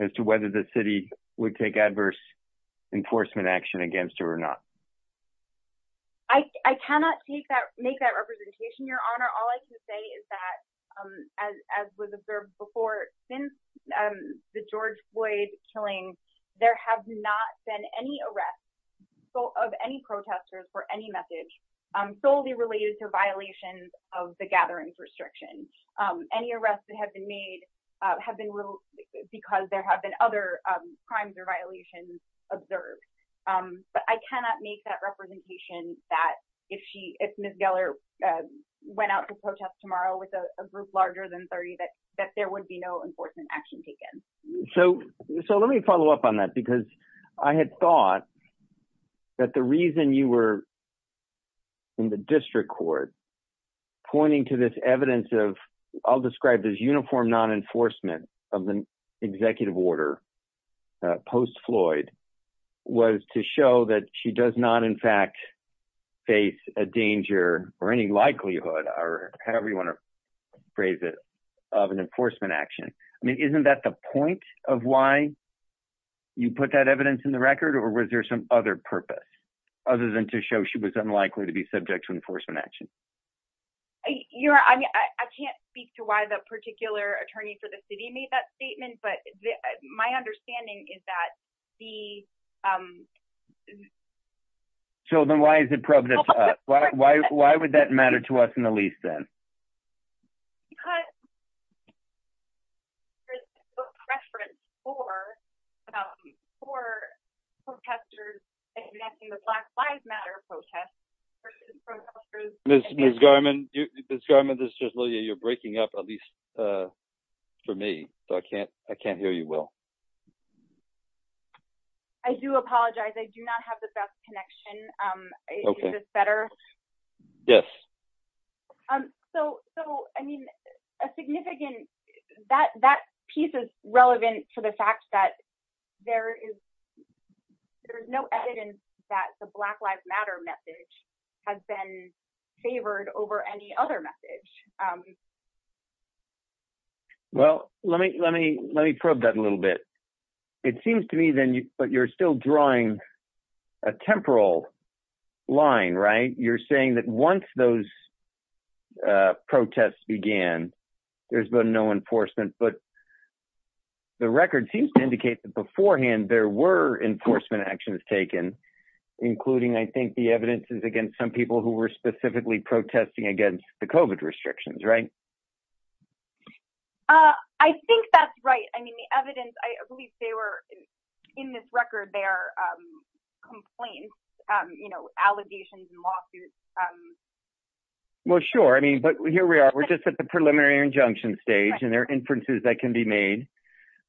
as to whether the city would take adverse enforcement action against her or not? I cannot take that, make that representation, your honor. All I can say is that, um, as, as was observed before, since, um, the George Floyd killing, there have not been any arrests of any protesters for any message, um, solely related to the gatherings restriction. Um, any arrests that have been made, uh, have been little because there have been other, um, crimes or violations observed. Um, but I cannot make that representation that if she, if Ms. Geller, uh, went out to protest tomorrow with a group larger than 30, that, that there would be no enforcement action taken. So, so let me follow up on that because I had thought that the reason you were in the district court pointing to this evidence of I'll describe this uniform non-enforcement of the executive order, uh, post Floyd was to show that she does not in fact face a danger or any likelihood or however you want to phrase it of an enforcement action. I mean, isn't that the point of why you put that evidence in the record or was there some other purpose other than to show she was unlikely to be subject to enforcement action? You're right. I mean, I can't speak to why the particular attorney for the city made that statement, but my understanding is that the, um, so then why is it projected to us? Why, why, why would that matter to us in the least then? Because for, uh, for protesters and connecting with black lives matter protests versus protesters. Ms. Garman, Ms. Garman, this is just Lilia. You're breaking up at least, uh, for me. So I can't, I can't hear you. Well, I do apologize. I do not have the best connection. Um, is this better? Yes. Um, so, so I mean a significant, that, that piece is relevant to the fact that there is, there's no evidence that the black lives matter message has been favored over any other message. Okay. Well, let me, let me, let me probe that a little bit. It seems to me then, but you're still drawing a temporal line, right? You're saying that once those, uh, protests began, there's been no enforcement, but the record seems to indicate that beforehand, there were enforcement actions taken, including, I think the evidence is against some people who were right. Uh, I think that's right. I mean the evidence, I believe they were in this record, they are, um, complaints, um, you know, allegations and lawsuits. Um, well, sure. I mean, but here we are, we're just at the preliminary injunction stage and there are inferences that can be made,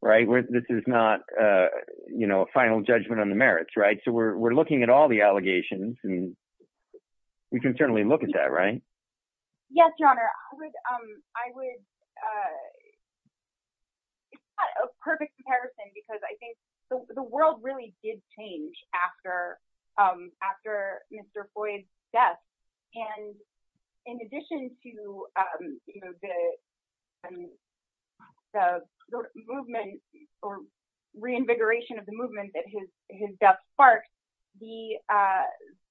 right? This is not, uh, you know, a final judgment on the merits, right? So we're, we're looking at all the allegations and we can certainly look at that, right? Yes, your honor. I would, um, I would, uh, it's not a perfect comparison because I think the world really did change after, um, after Mr. Floyd's death. And in addition to, um, you know, the, um, the movement or reinvigoration of the movement that his, his death sparked, the, uh,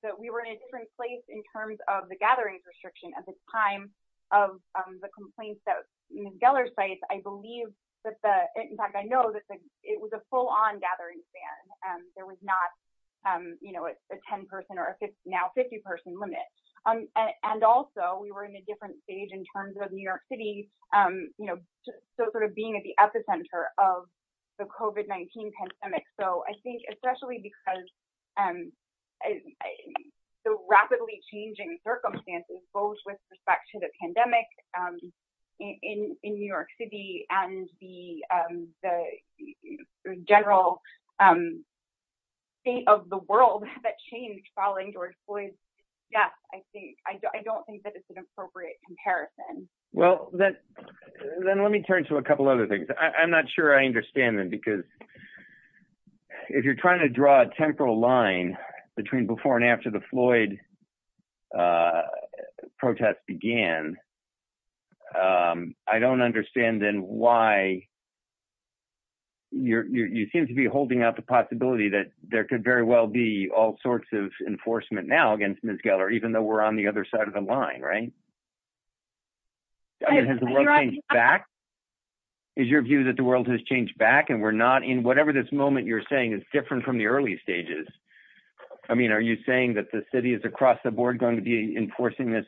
that we were in a different place in terms of the gathering restriction at the time of, um, the complaints that Ms. Geller cites, I believe that the, in fact, I know that the, it was a full on gathering span and there was not, um, you know, a 10 person or a 50, now 50 person limit. Um, and also we were in a different stage in terms of New York city, um, you know, so sort of being at the epicenter of the COVID-19 pandemic. So I think especially because, um, the rapidly changing circumstances, both with respect to the pandemic, um, in, in New York city and the, um, the general, um, state of the world that changed following George Floyd's death, I think, I don't, I don't think that it's an appropriate comparison. Well, then let me turn to a couple other things. I'm not sure I understand them because if you're trying to draw a temporal line between before and after the Floyd, uh, protests began, um, I don't understand then why you're, you seem to be holding out the possibility that there could very well be all sorts of enforcement now against Ms. Geller, even though we're on the other side of the line, right? Is your view that the world has changed back and we're not in whatever this moment you're saying is different from the early stages. I mean, are you saying that the city is across the board going to be enforcing this,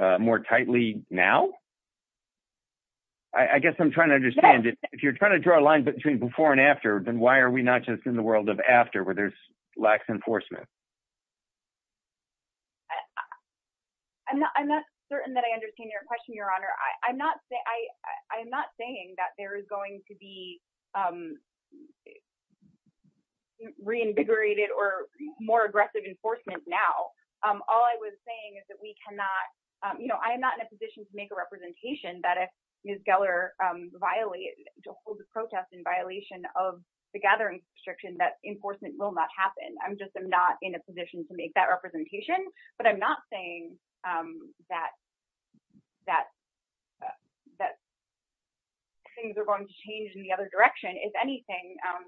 uh, more tightly now? I guess I'm trying to understand if you're trying to draw a line between before and after, then why are we not just in the world of after where there's lax enforcement? I'm not, I'm not certain that I understand your question, your honor. I, I'm not saying, I'm not saying that there is going to be, um, reinvigorated or more aggressive enforcement. Now, um, all I was saying is that we cannot, um, you know, I am not in a position to make a representation that if Ms. Geller, um, violated to hold the protest in violation of the gathering restriction, that enforcement will not happen. I'm just, I'm not in a position to make that things are going to change in the other direction. If anything, um,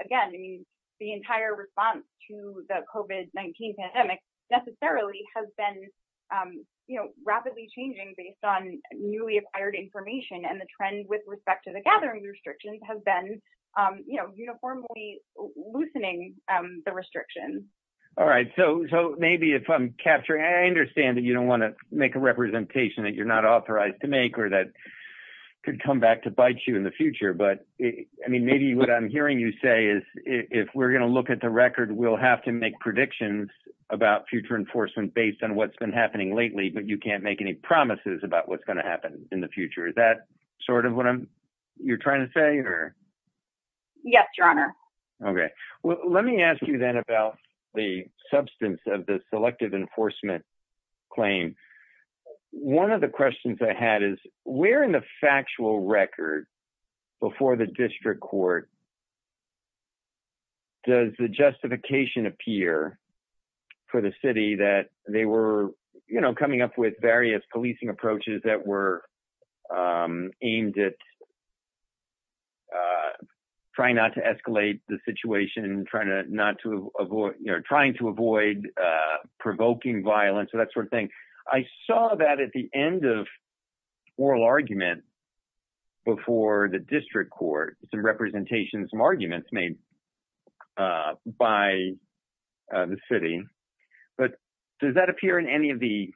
again, I mean, the entire response to the COVID-19 pandemic necessarily has been, um, you know, rapidly changing based on newly acquired information and the trend with respect to the gathering restrictions has been, um, you know, uniformly loosening, um, the restrictions. All right. So, so maybe if I'm capturing, I understand that you don't want to make a could come back to bite you in the future, but I mean, maybe what I'm hearing you say is if we're going to look at the record, we'll have to make predictions about future enforcement based on what's been happening lately, but you can't make any promises about what's going to happen in the future. Is that sort of what I'm, you're trying to say or. Yes, your honor. Okay. Well, let me ask you then about the substance of the selective enforcement claim. One of the questions I had is we're in the factual record before the district court. Does the justification appear for the city that they were, you know, coming up with various policing approaches that were, um, aimed at, uh, trying not to escalate the situation, trying to not to avoid, you know, trying to avoid, uh, provoking violence. I saw that at the end of oral argument before the district court, some representation, some arguments made, uh, by, uh, the city, but does that appear in any of the,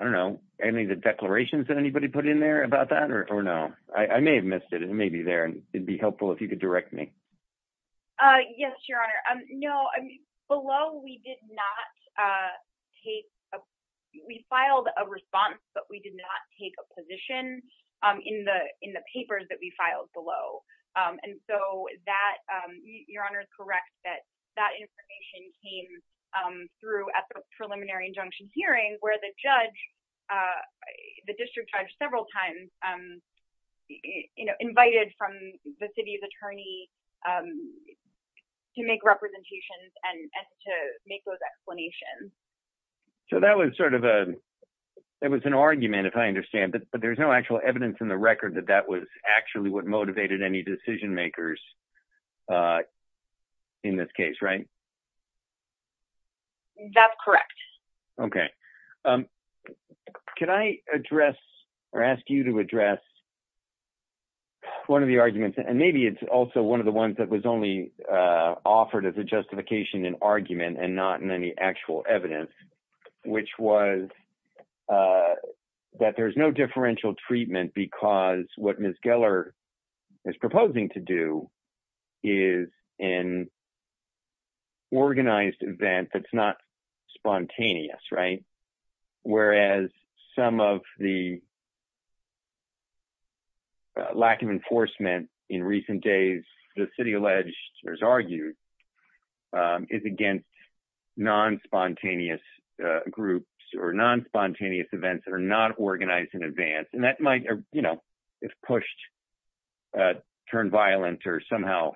I don't know, any of the declarations that anybody put in there about that or, or no, I may have missed it. It may be there and it'd be helpful if you could direct me. Uh, yes, your honor. Um, no, I mean, below we did not, uh, take a, we filed a response, but we did not take a position, um, in the, in the papers that we filed below. Um, and so that, um, your honor is correct that that information came, um, through at the preliminary injunction hearing where the judge, uh, the district judge several times, um, you know, from the city's attorney, um, to make representations and to make those explanations. So that was sort of a, it was an argument if I understand, but there's no actual evidence in the record that that was actually what motivated any decision makers, uh, in this case, right? That's correct. Okay. Um, can I address or ask you to address one of the arguments and maybe it's also one of the ones that was only, uh, offered as a justification in argument and not in any actual evidence, which was, uh, that there's no differential treatment because what Ms. Geller is proposing to do is in organized event. That's not a lack of enforcement in recent days, the city alleged there's argued, um, is against non-spontaneous, uh, groups or non-spontaneous events that are not organized in advance. And that might, you know, if pushed, uh, turn violent or somehow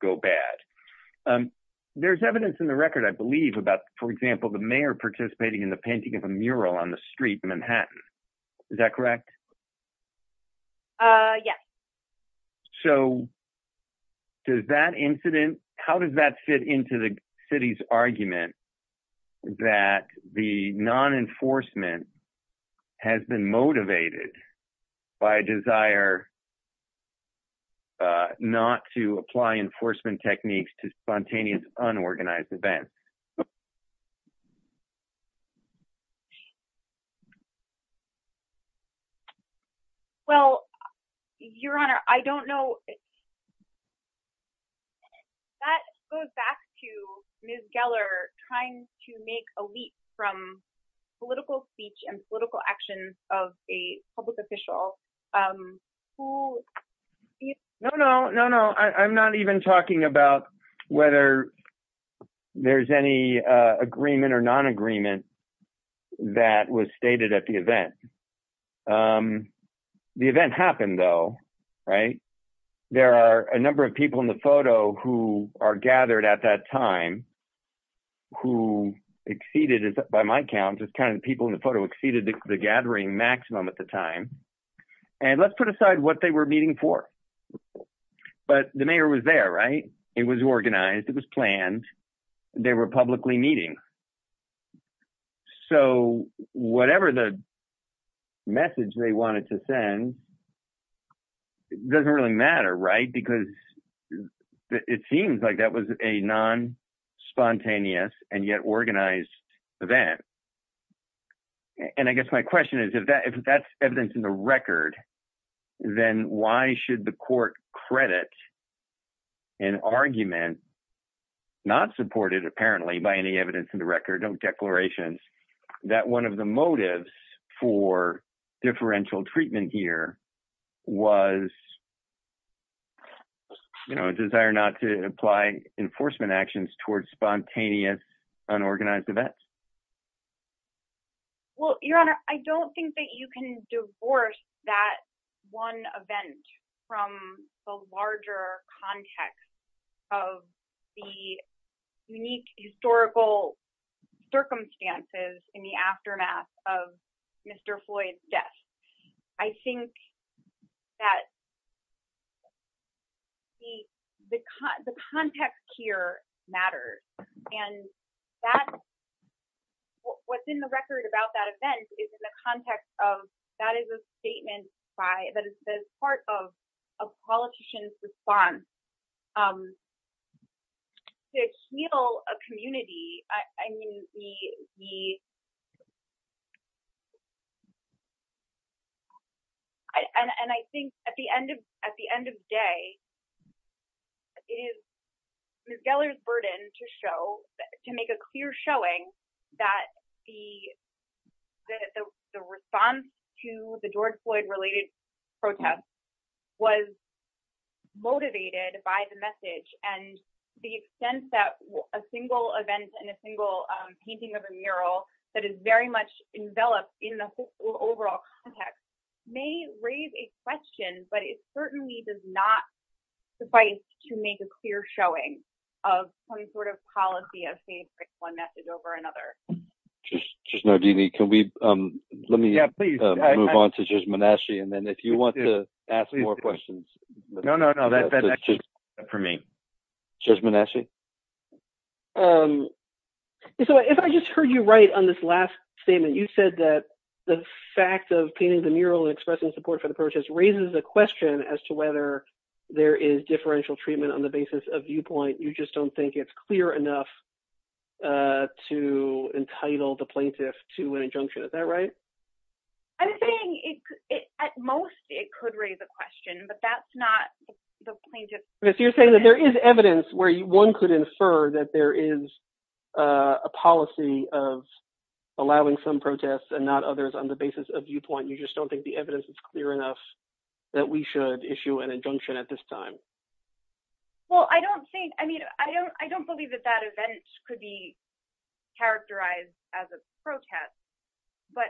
go bad. Um, there's evidence in the record, I believe about, for example, the mayor participating in the painting of a mural on street in Manhattan. Is that correct? Uh, yeah. So does that incident, how does that fit into the city's argument that the non-enforcement has been motivated by a desire, uh, not to apply enforcement techniques to spontaneous unorganized events. Well, your honor, I don't know. That goes back to Ms. Geller trying to make a leap from political speech and political actions of a public official, um, who, no, no, no, no. I'm not even talking about whether there's any, uh, agreement or non-agreement that was stated at the event. Um, the event happened though, right? There are a number of people in the photo who are gathered at that time, who exceeded, by my count, just kind of people in the photo exceeded the gathering maximum at the time. And let's put aside what they were meeting for, but the mayor was there, right? It was publicly meeting. So whatever the message they wanted to send doesn't really matter, right? Because it seems like that was a non-spontaneous and yet organized event. And I guess my question is if that, if that's evidence in the record, then why should the court credit an argument not supported apparently by any evidence in the record, no declarations, that one of the motives for differential treatment here was, you know, a desire not to apply enforcement actions towards spontaneous unorganized events? Well, your honor, I don't think that you can divorce that one event from the larger context of the unique historical circumstances in the aftermath of Mr. Floyd's death. I think that the context here matters. And that's what's in the record about that event is in the context of that is a statement by, that is part of a politician's response to heal a community. And I think at the end of day, it is Ms. Geller's burden to show, to make a clear showing that the response to the George Floyd related protests was motivated by the message and the extent that a single event and a single painting of a mural that is very much enveloped in the overall context may raise a question, but it certainly does not suffice to make a clear showing of some sort of policy of saying one message over another. Just know, DeeDee, can we, let me move on to Judge Manasci and then if you want to ask more questions. No, no, no, that's for me. Judge Manasci? So if I just heard you right on this last statement, you said that the fact of painting the mural and expressing support for the protest raises a question as to whether there is differential treatment on the basis of viewpoint. You just don't think it's clear enough to entitle the plaintiff to an injunction. Is that right? I'm saying it, at most, it could raise a question, but that's not the plaintiff. If you're saying that there is evidence where one could infer that there is a policy of allowing some protests and not others on the basis of viewpoint, you just don't think the at this time. Well, I don't think, I mean, I don't, I don't believe that that event could be characterized as a protest, but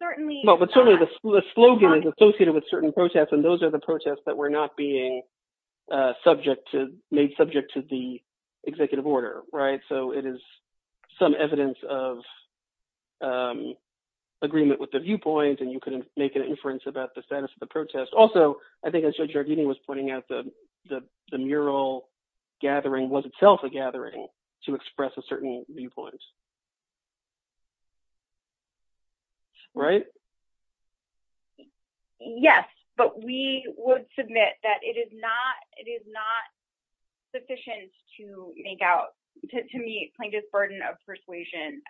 certainly, well, but certainly the slogan is associated with certain protests and those are the protests that were not being subject to, made subject to the executive order, right? So it is some evidence of agreement with the viewpoint and you can make an inference about the status of the protest. Also, I think I showed you our meeting was pointing out that the mural gathering was itself a gathering to express a certain viewpoint, right? Yes, but we would submit that it is not, it is not sufficient to make out, to me, plaintiff's burden of persuasion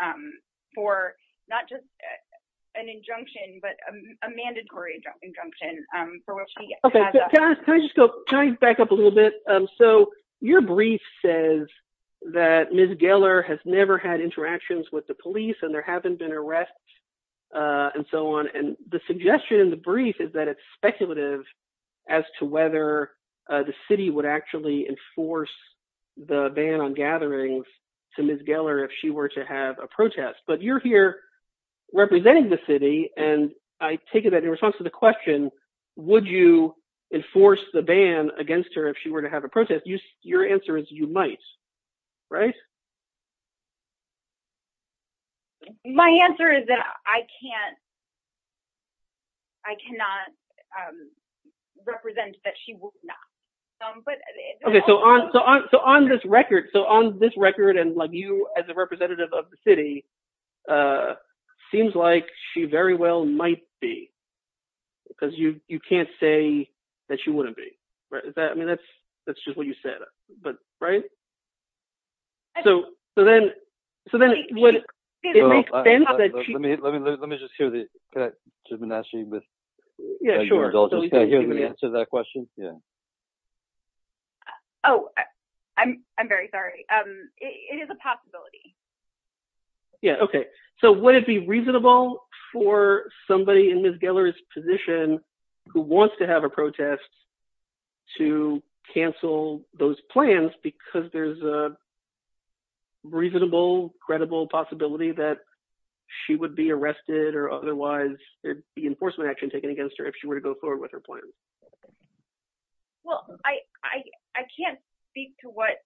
for not just an injunction, but a mandatory injunction. Can I just go, can I back up a little bit? So your brief says that Ms. Geller has never had interactions with the police and there haven't been arrests and so on. And the suggestion in the brief is that it's speculative as to whether the city would actually enforce the ban on to Ms. Geller if she were to have a protest. But you're here representing the city and I take it that in response to the question, would you enforce the ban against her if she were to have a protest? Your answer is you might, right? My answer is that I can't, I cannot represent that she would not. Okay, so on this record, so on this record and like you as a representative of the city, seems like she very well might be, because you can't say that she wouldn't be, right? Is that, I mean, that's just what you said, right? So, so then, so then what, let me, let me, let me just hear the, can I just ask you Ms. Geller's answer to that question? Yeah. Oh, I'm, I'm very sorry. It is a possibility. Yeah. Okay. So would it be reasonable for somebody in Ms. Geller's position who wants to have a protest to cancel those plans because there's a reasonable, credible possibility that she would be arrested or otherwise there'd be enforcement action taken against her if she were to go forward with her plan? Well, I, I, I can't speak to what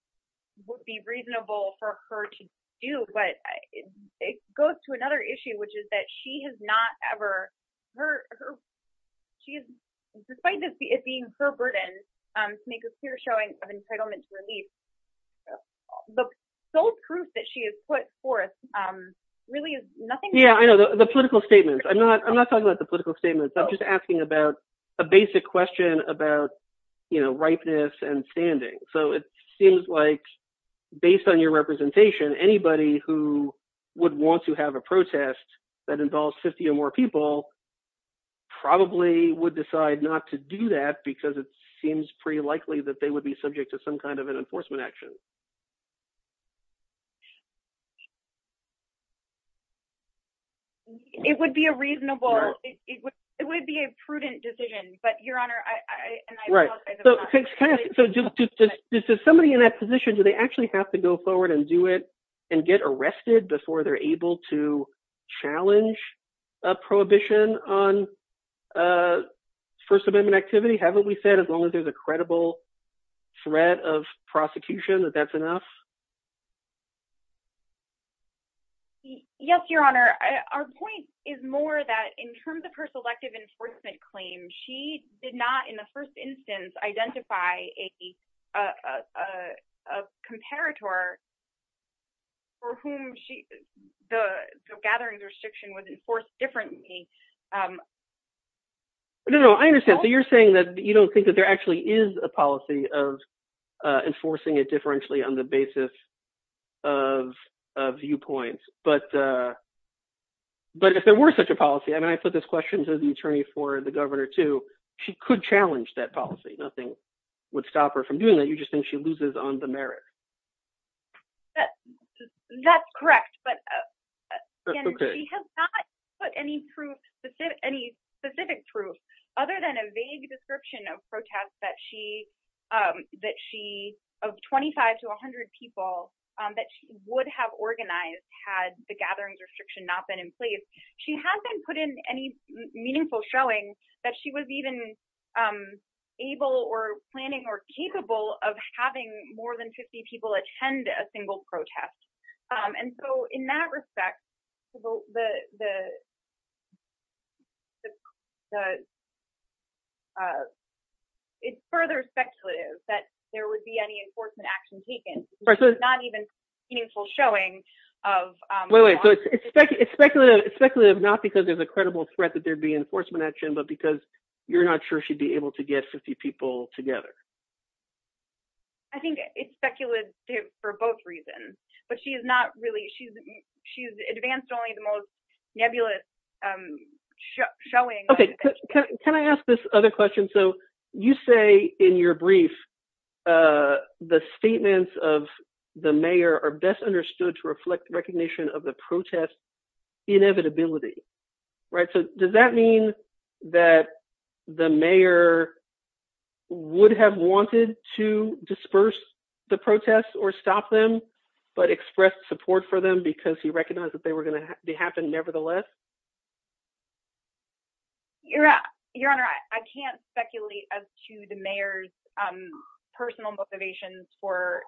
would be reasonable for her to do, but it goes to another issue, which is that she has not ever, her, her, she's, despite this being her burden to make a clear showing of entitlement to release, the sole proof that she has put forth really is nothing. Yeah, I know the political statements. I'm not, I'm not talking about the political statements. I'm just asking about a basic question about, you know, ripeness and standing. So it seems like based on your representation, anybody who would want to have a protest that involves 50 or more people probably would decide not to do that because it seems pretty likely that they would be subject to some kind of an enforcement action. It would be a reasonable, it would, it would be a prudent decision, but Your Honor, I, I. Right. So just, just, just, just somebody in that position, do they actually have to go forward and do it and get arrested before they're able to challenge a prohibition on First Amendment activity? Haven't we said as long as there's a credible threat of prosecution that that's enough? Yes, Your Honor. Our point is more that in terms of her selective enforcement claim, she did not in the first instance, identify a, a, a, a comparator for whom she, the gathering restriction was enforced differently. No, no, I understand. So you're saying that you don't think that there actually is a policy of enforcing it differentially on the basis of, of viewpoints, but, but if there were such a policy, and I put this question to the attorney for the governor too, she could challenge that policy. Nothing would stop her from doing that. You just think she loses on the merit. That, that's correct, but she has not put any proof, any specific proof, other than a vague description of protests that she, that she of 25 to a hundred people that would have organized had the gatherings restriction not been in place. She hasn't put in any meaningful showing that she was even able or planning or capable of having more than 50 people attend a single protest. And so in that respect, the, the, the, the, it's further speculative that there would be any enforcement action taken, not even meaningful showing of. It's speculative, speculative, not because there's a credible threat that there'd be not sure she'd be able to get 50 people together. I think it's speculative for both reasons, but she is not really, she's, she's advanced only the most nebulous showing. Can I ask this other question? So you say in your brief, the statements of the mayor are best understood to reflect recognition of the protest inevitability, right? So does that mean that the mayor would have wanted to disperse the protests or stop them, but expressed support for them because he recognized that they were going to happen nevertheless? Your Honor, I can't speculate as to the mayor's personal motivations for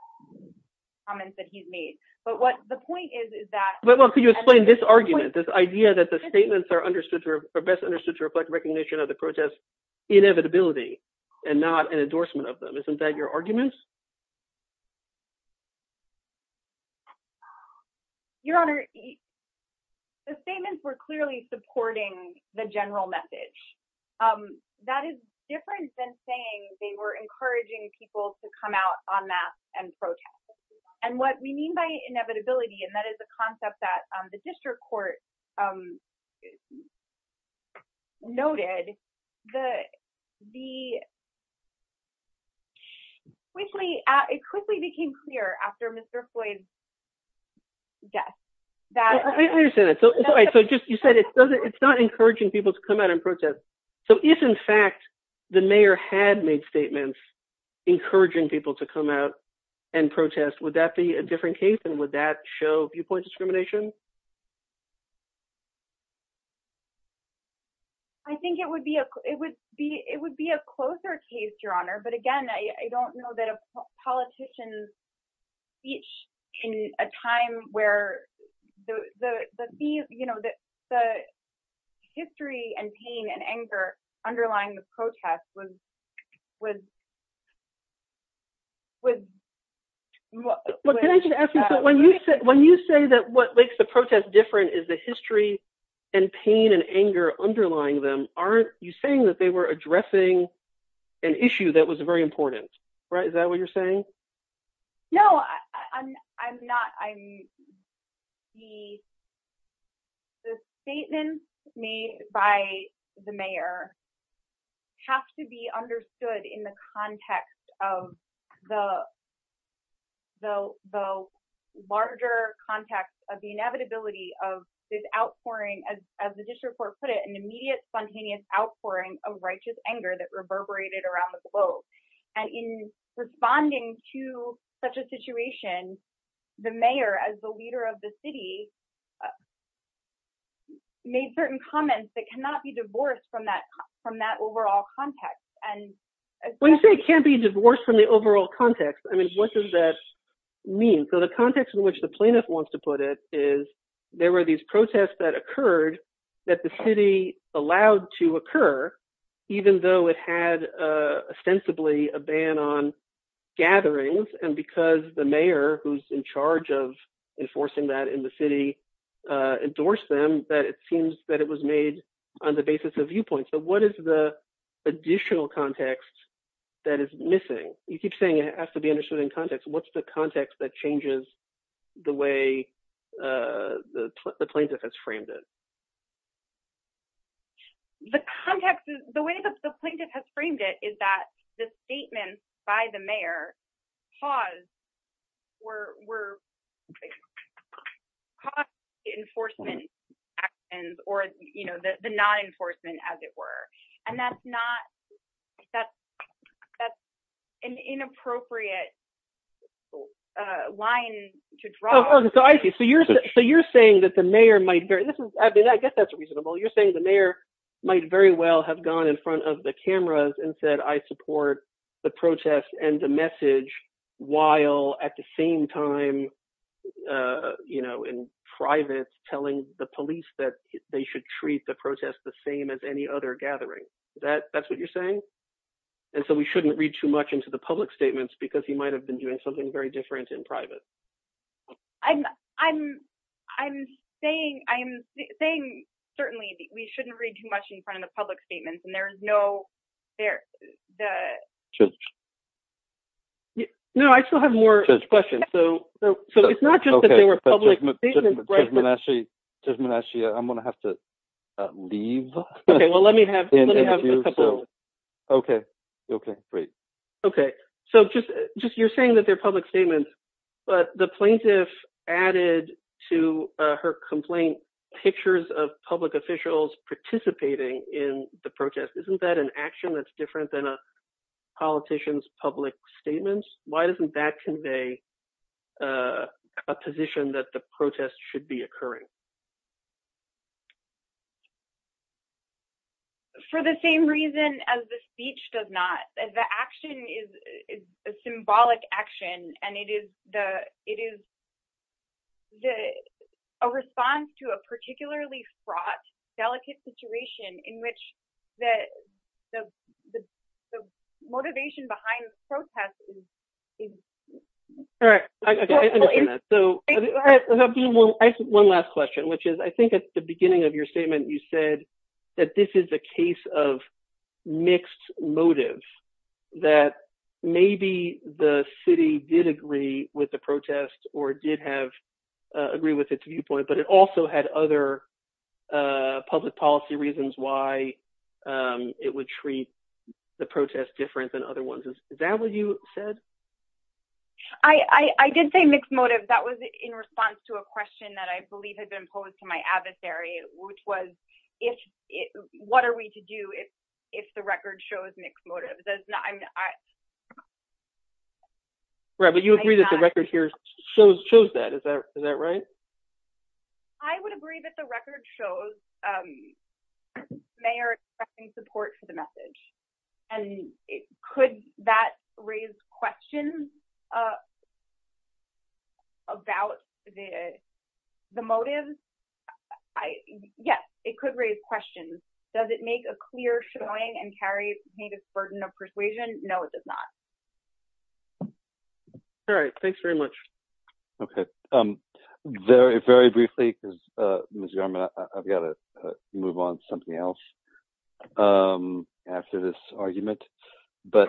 comments that he's made, but what the point is, is that, well, could you explain this argument, this idea that the statements are understood, are best understood to reflect recognition of the protest inevitability and not an endorsement of them? Isn't that your argument? Your Honor, the statements were clearly supporting the general message. That is different than saying they were encouraging people to come out on that and protest. And what we mean by um, noted, the, the quickly, it quickly became clear after Mr. Floyd's death. I understand that. So you said it's not encouraging people to come out and protest. So if in fact the mayor had made statements encouraging people to come out and protest, would that be a different case? And would that show viewpoint discrimination? I think it would be a, it would be, it would be a closer case, Your Honor. But again, I don't know that a politician's speech in a time where the, the, the, you know, the, the history and pain and anger underlying the protest was, was, was, well, when you say that, what makes the protest different is the history and pain and anger underlying them. Aren't you saying that they were addressing an issue that was very important, right? Is that what you're saying? No, I'm, I'm not. I'm, the, the statements made by the mayor have to be understood in the context of the, the, the larger context of the inevitability of this outpouring, as, as the district court put it, an immediate spontaneous outpouring of righteous anger that reverberated around the globe. And in responding to such a situation, the mayor, as the leader of the city, made certain comments that cannot be divorced from that, from that overall context. When you say it can't be divorced from the overall context, I mean, what does that mean? So the context in which the plaintiff wants to put it is there were these protests that occurred that the city allowed to occur, even though it had ostensibly a ban on gatherings. And because the mayor, who's in charge of enforcing that in the city, endorsed them, that it seems that it was made on the basis of viewpoint. So what is the additional context that is missing? You keep saying it has to be understood in context. What's the context that changes the way the plaintiff has framed it? The context is, the way the plaintiff has framed it is that the statement by the mayor caused enforcement actions, or the non-enforcement, as it were. And that's not, that's an inappropriate line to draw. Oh, I see. So you're saying that the mayor might, I mean, I guess that's reasonable. You're saying the mayor might very well have gone in front of the cameras and said, I support the protest and the message, while at the same time, you know, in private, telling the police that they should treat the protest the same as any other gathering. That's what you're saying? And so we shouldn't read too much into the public statements, because he might have been doing something very different in private. I'm saying, certainly, we shouldn't read too much in front of the public statements, and there's no... No, I still have more questions. So it's not just that they were public. Okay, but Judge Menachie, I'm going to have to leave. Okay, well, let me have a couple... Okay, okay, great. Okay, so just, you're saying that they're public statements, but the plaintiff added to her complaint pictures of public officials participating in the protest. Isn't that an action that's different than a politician's public statements? Why doesn't that convey a position that the protest should be occurring? For the same reason as the speech does not, the action is a symbolic action, and it is a response to a particularly fraught, delicate situation in which the motivation behind the protest is... All right, I understand that. So I have one last question, which is, I think at the beginning of that, maybe the city did agree with the protest or did agree with its viewpoint, but it also had other public policy reasons why it would treat the protest different than other ones. Is that what you said? I did say mixed motive. That was in response to a question that I believe had been asked. Right, but you agree that the record here shows that. Is that right? I would agree that the record shows the mayor expecting support for the message, and could that raise questions about the motive? Yes, it could raise questions. Does it make a clear showing and carry the burden of persuasion? No, it does not. All right, thanks very much. Okay. Very briefly, because Ms. Yarma, I've got to move on to something else after this argument, but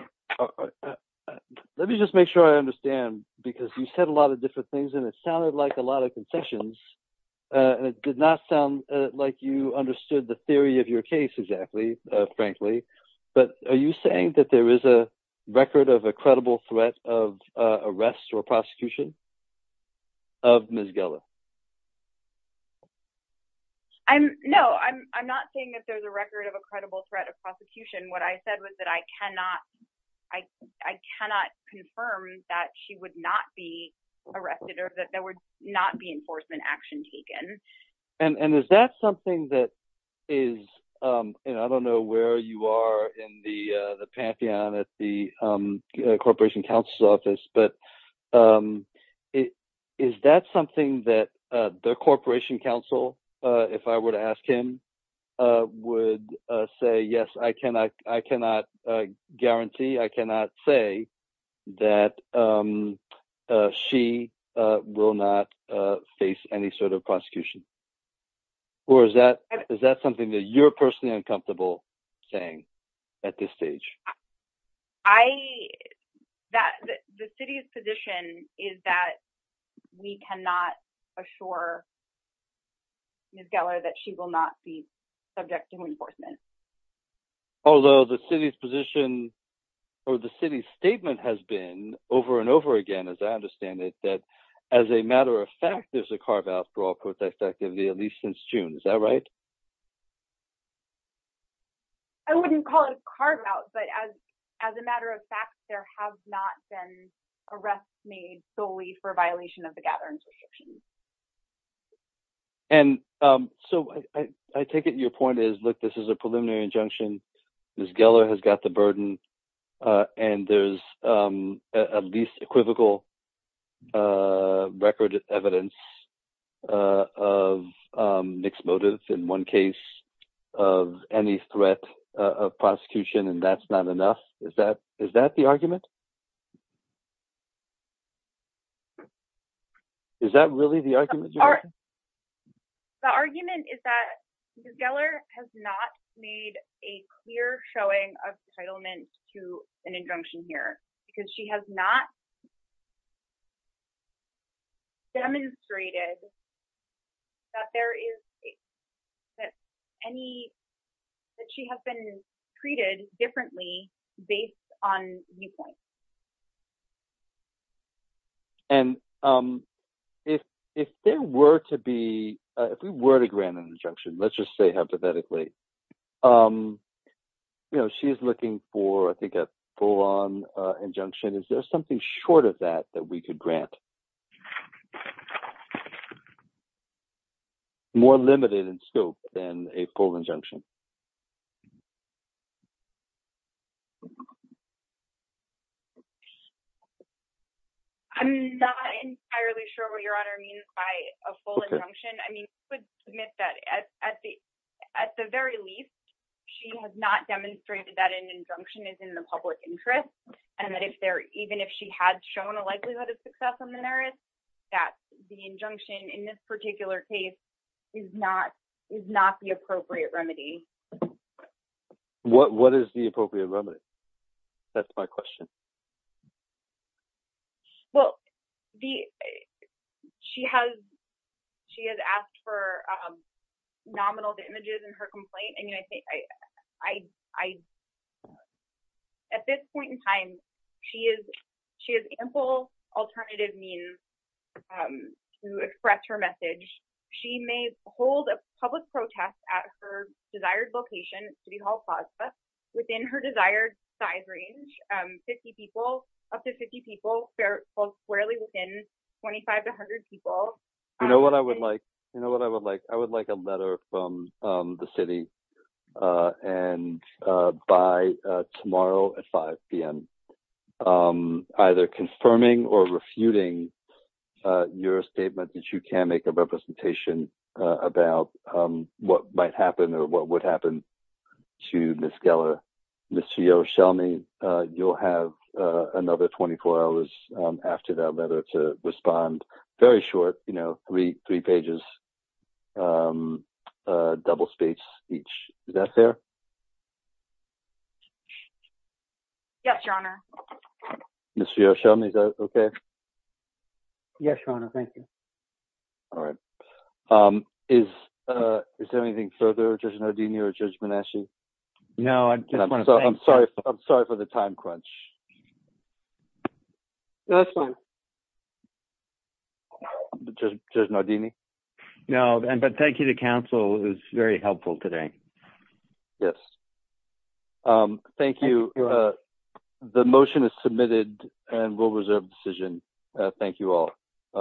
let me just make sure I understand, because you said a lot of different things, and it sounded like a lot of confessions, and it did not sound like you understood the theory of your case exactly, frankly, but are you saying that there is a record of a credible threat of arrest or prosecution of Ms. Gellar? No, I'm not saying that there's a record of a credible threat of prosecution. What I said was that I cannot confirm that she would not be arrested or that there would not be enforcement action taken. I don't know where you are in the pantheon at the Corporation Counsel's Office, but is that something that the Corporation Counsel, if I were to ask him, would say, yes, I cannot guarantee, I cannot say that she will not face any sort of prosecution, or is that something that you're personally uncomfortable saying at this stage? I, that the City's position is that we cannot assure Ms. Gellar that she will not be subject to enforcement. Although the City's position, or the City's statement has been over and over again, as I understand it, that as a matter of fact, there's a carve-out for all as a matter of fact, there have not been arrests made solely for violation of the Gathering Prohibitions. And so I take it your point is, look, this is a preliminary injunction. Ms. Gellar has got the burden, and there's at least equivocal record of evidence of mixed motives in one case of any threat of prosecution, and that's not enough. Is that the argument? Is that really the argument? The argument is that Ms. Gellar has not made a clear showing of entitlement to an injunction here, because she has not demonstrated that there is any, that she has been treated differently based on viewpoint. And if there were to be, if we were to grant an injunction, let's just say hypothetically, you know, she's looking for, I think, a full-on injunction. Is there something short of that, that we could grant? More limited in scope than a full injunction. I'm not entirely sure what your Honor means by a full injunction. I mean, I would submit that at the very least, she has not demonstrated that an injunction is in the public interest, and that if there, even if she had shown a likelihood of success on the merits, that the injunction in this particular case is not the appropriate remedy. What is the appropriate remedy? That's my question. Well, she has asked for nominal images in her complaint, and I think, I, at this point in time, she has ample alternative means to express her message. She may hold a public protest at her desired location, City Hall Plaza, within her desired size range, 50 people, up to 50 people, fairly within 25 to 100 people. You know what I would like? You know what I would like? I would like a letter from the City, and by tomorrow at 5 p.m., either confirming or refuting your statement that you can make a representation about what might happen, or what would happen to Ms. Geller, Ms. Fio, you'll have another 24 hours after that letter to respond. Very short, you know, three pages, double speech each. Is that fair? Yes, Your Honor. Ms. Fio, is that okay? Yes, Your Honor, thank you. All right. Is there anything further, Judge Nardini or Judge Manasseh? No, I just want to thank you. I'm sorry for the time crunch. No, that's fine. Judge Nardini? No, but thank you to counsel. It was very helpful today. Yes. Thank you. The motion is submitted, and we'll reserve the decision. Thank you all.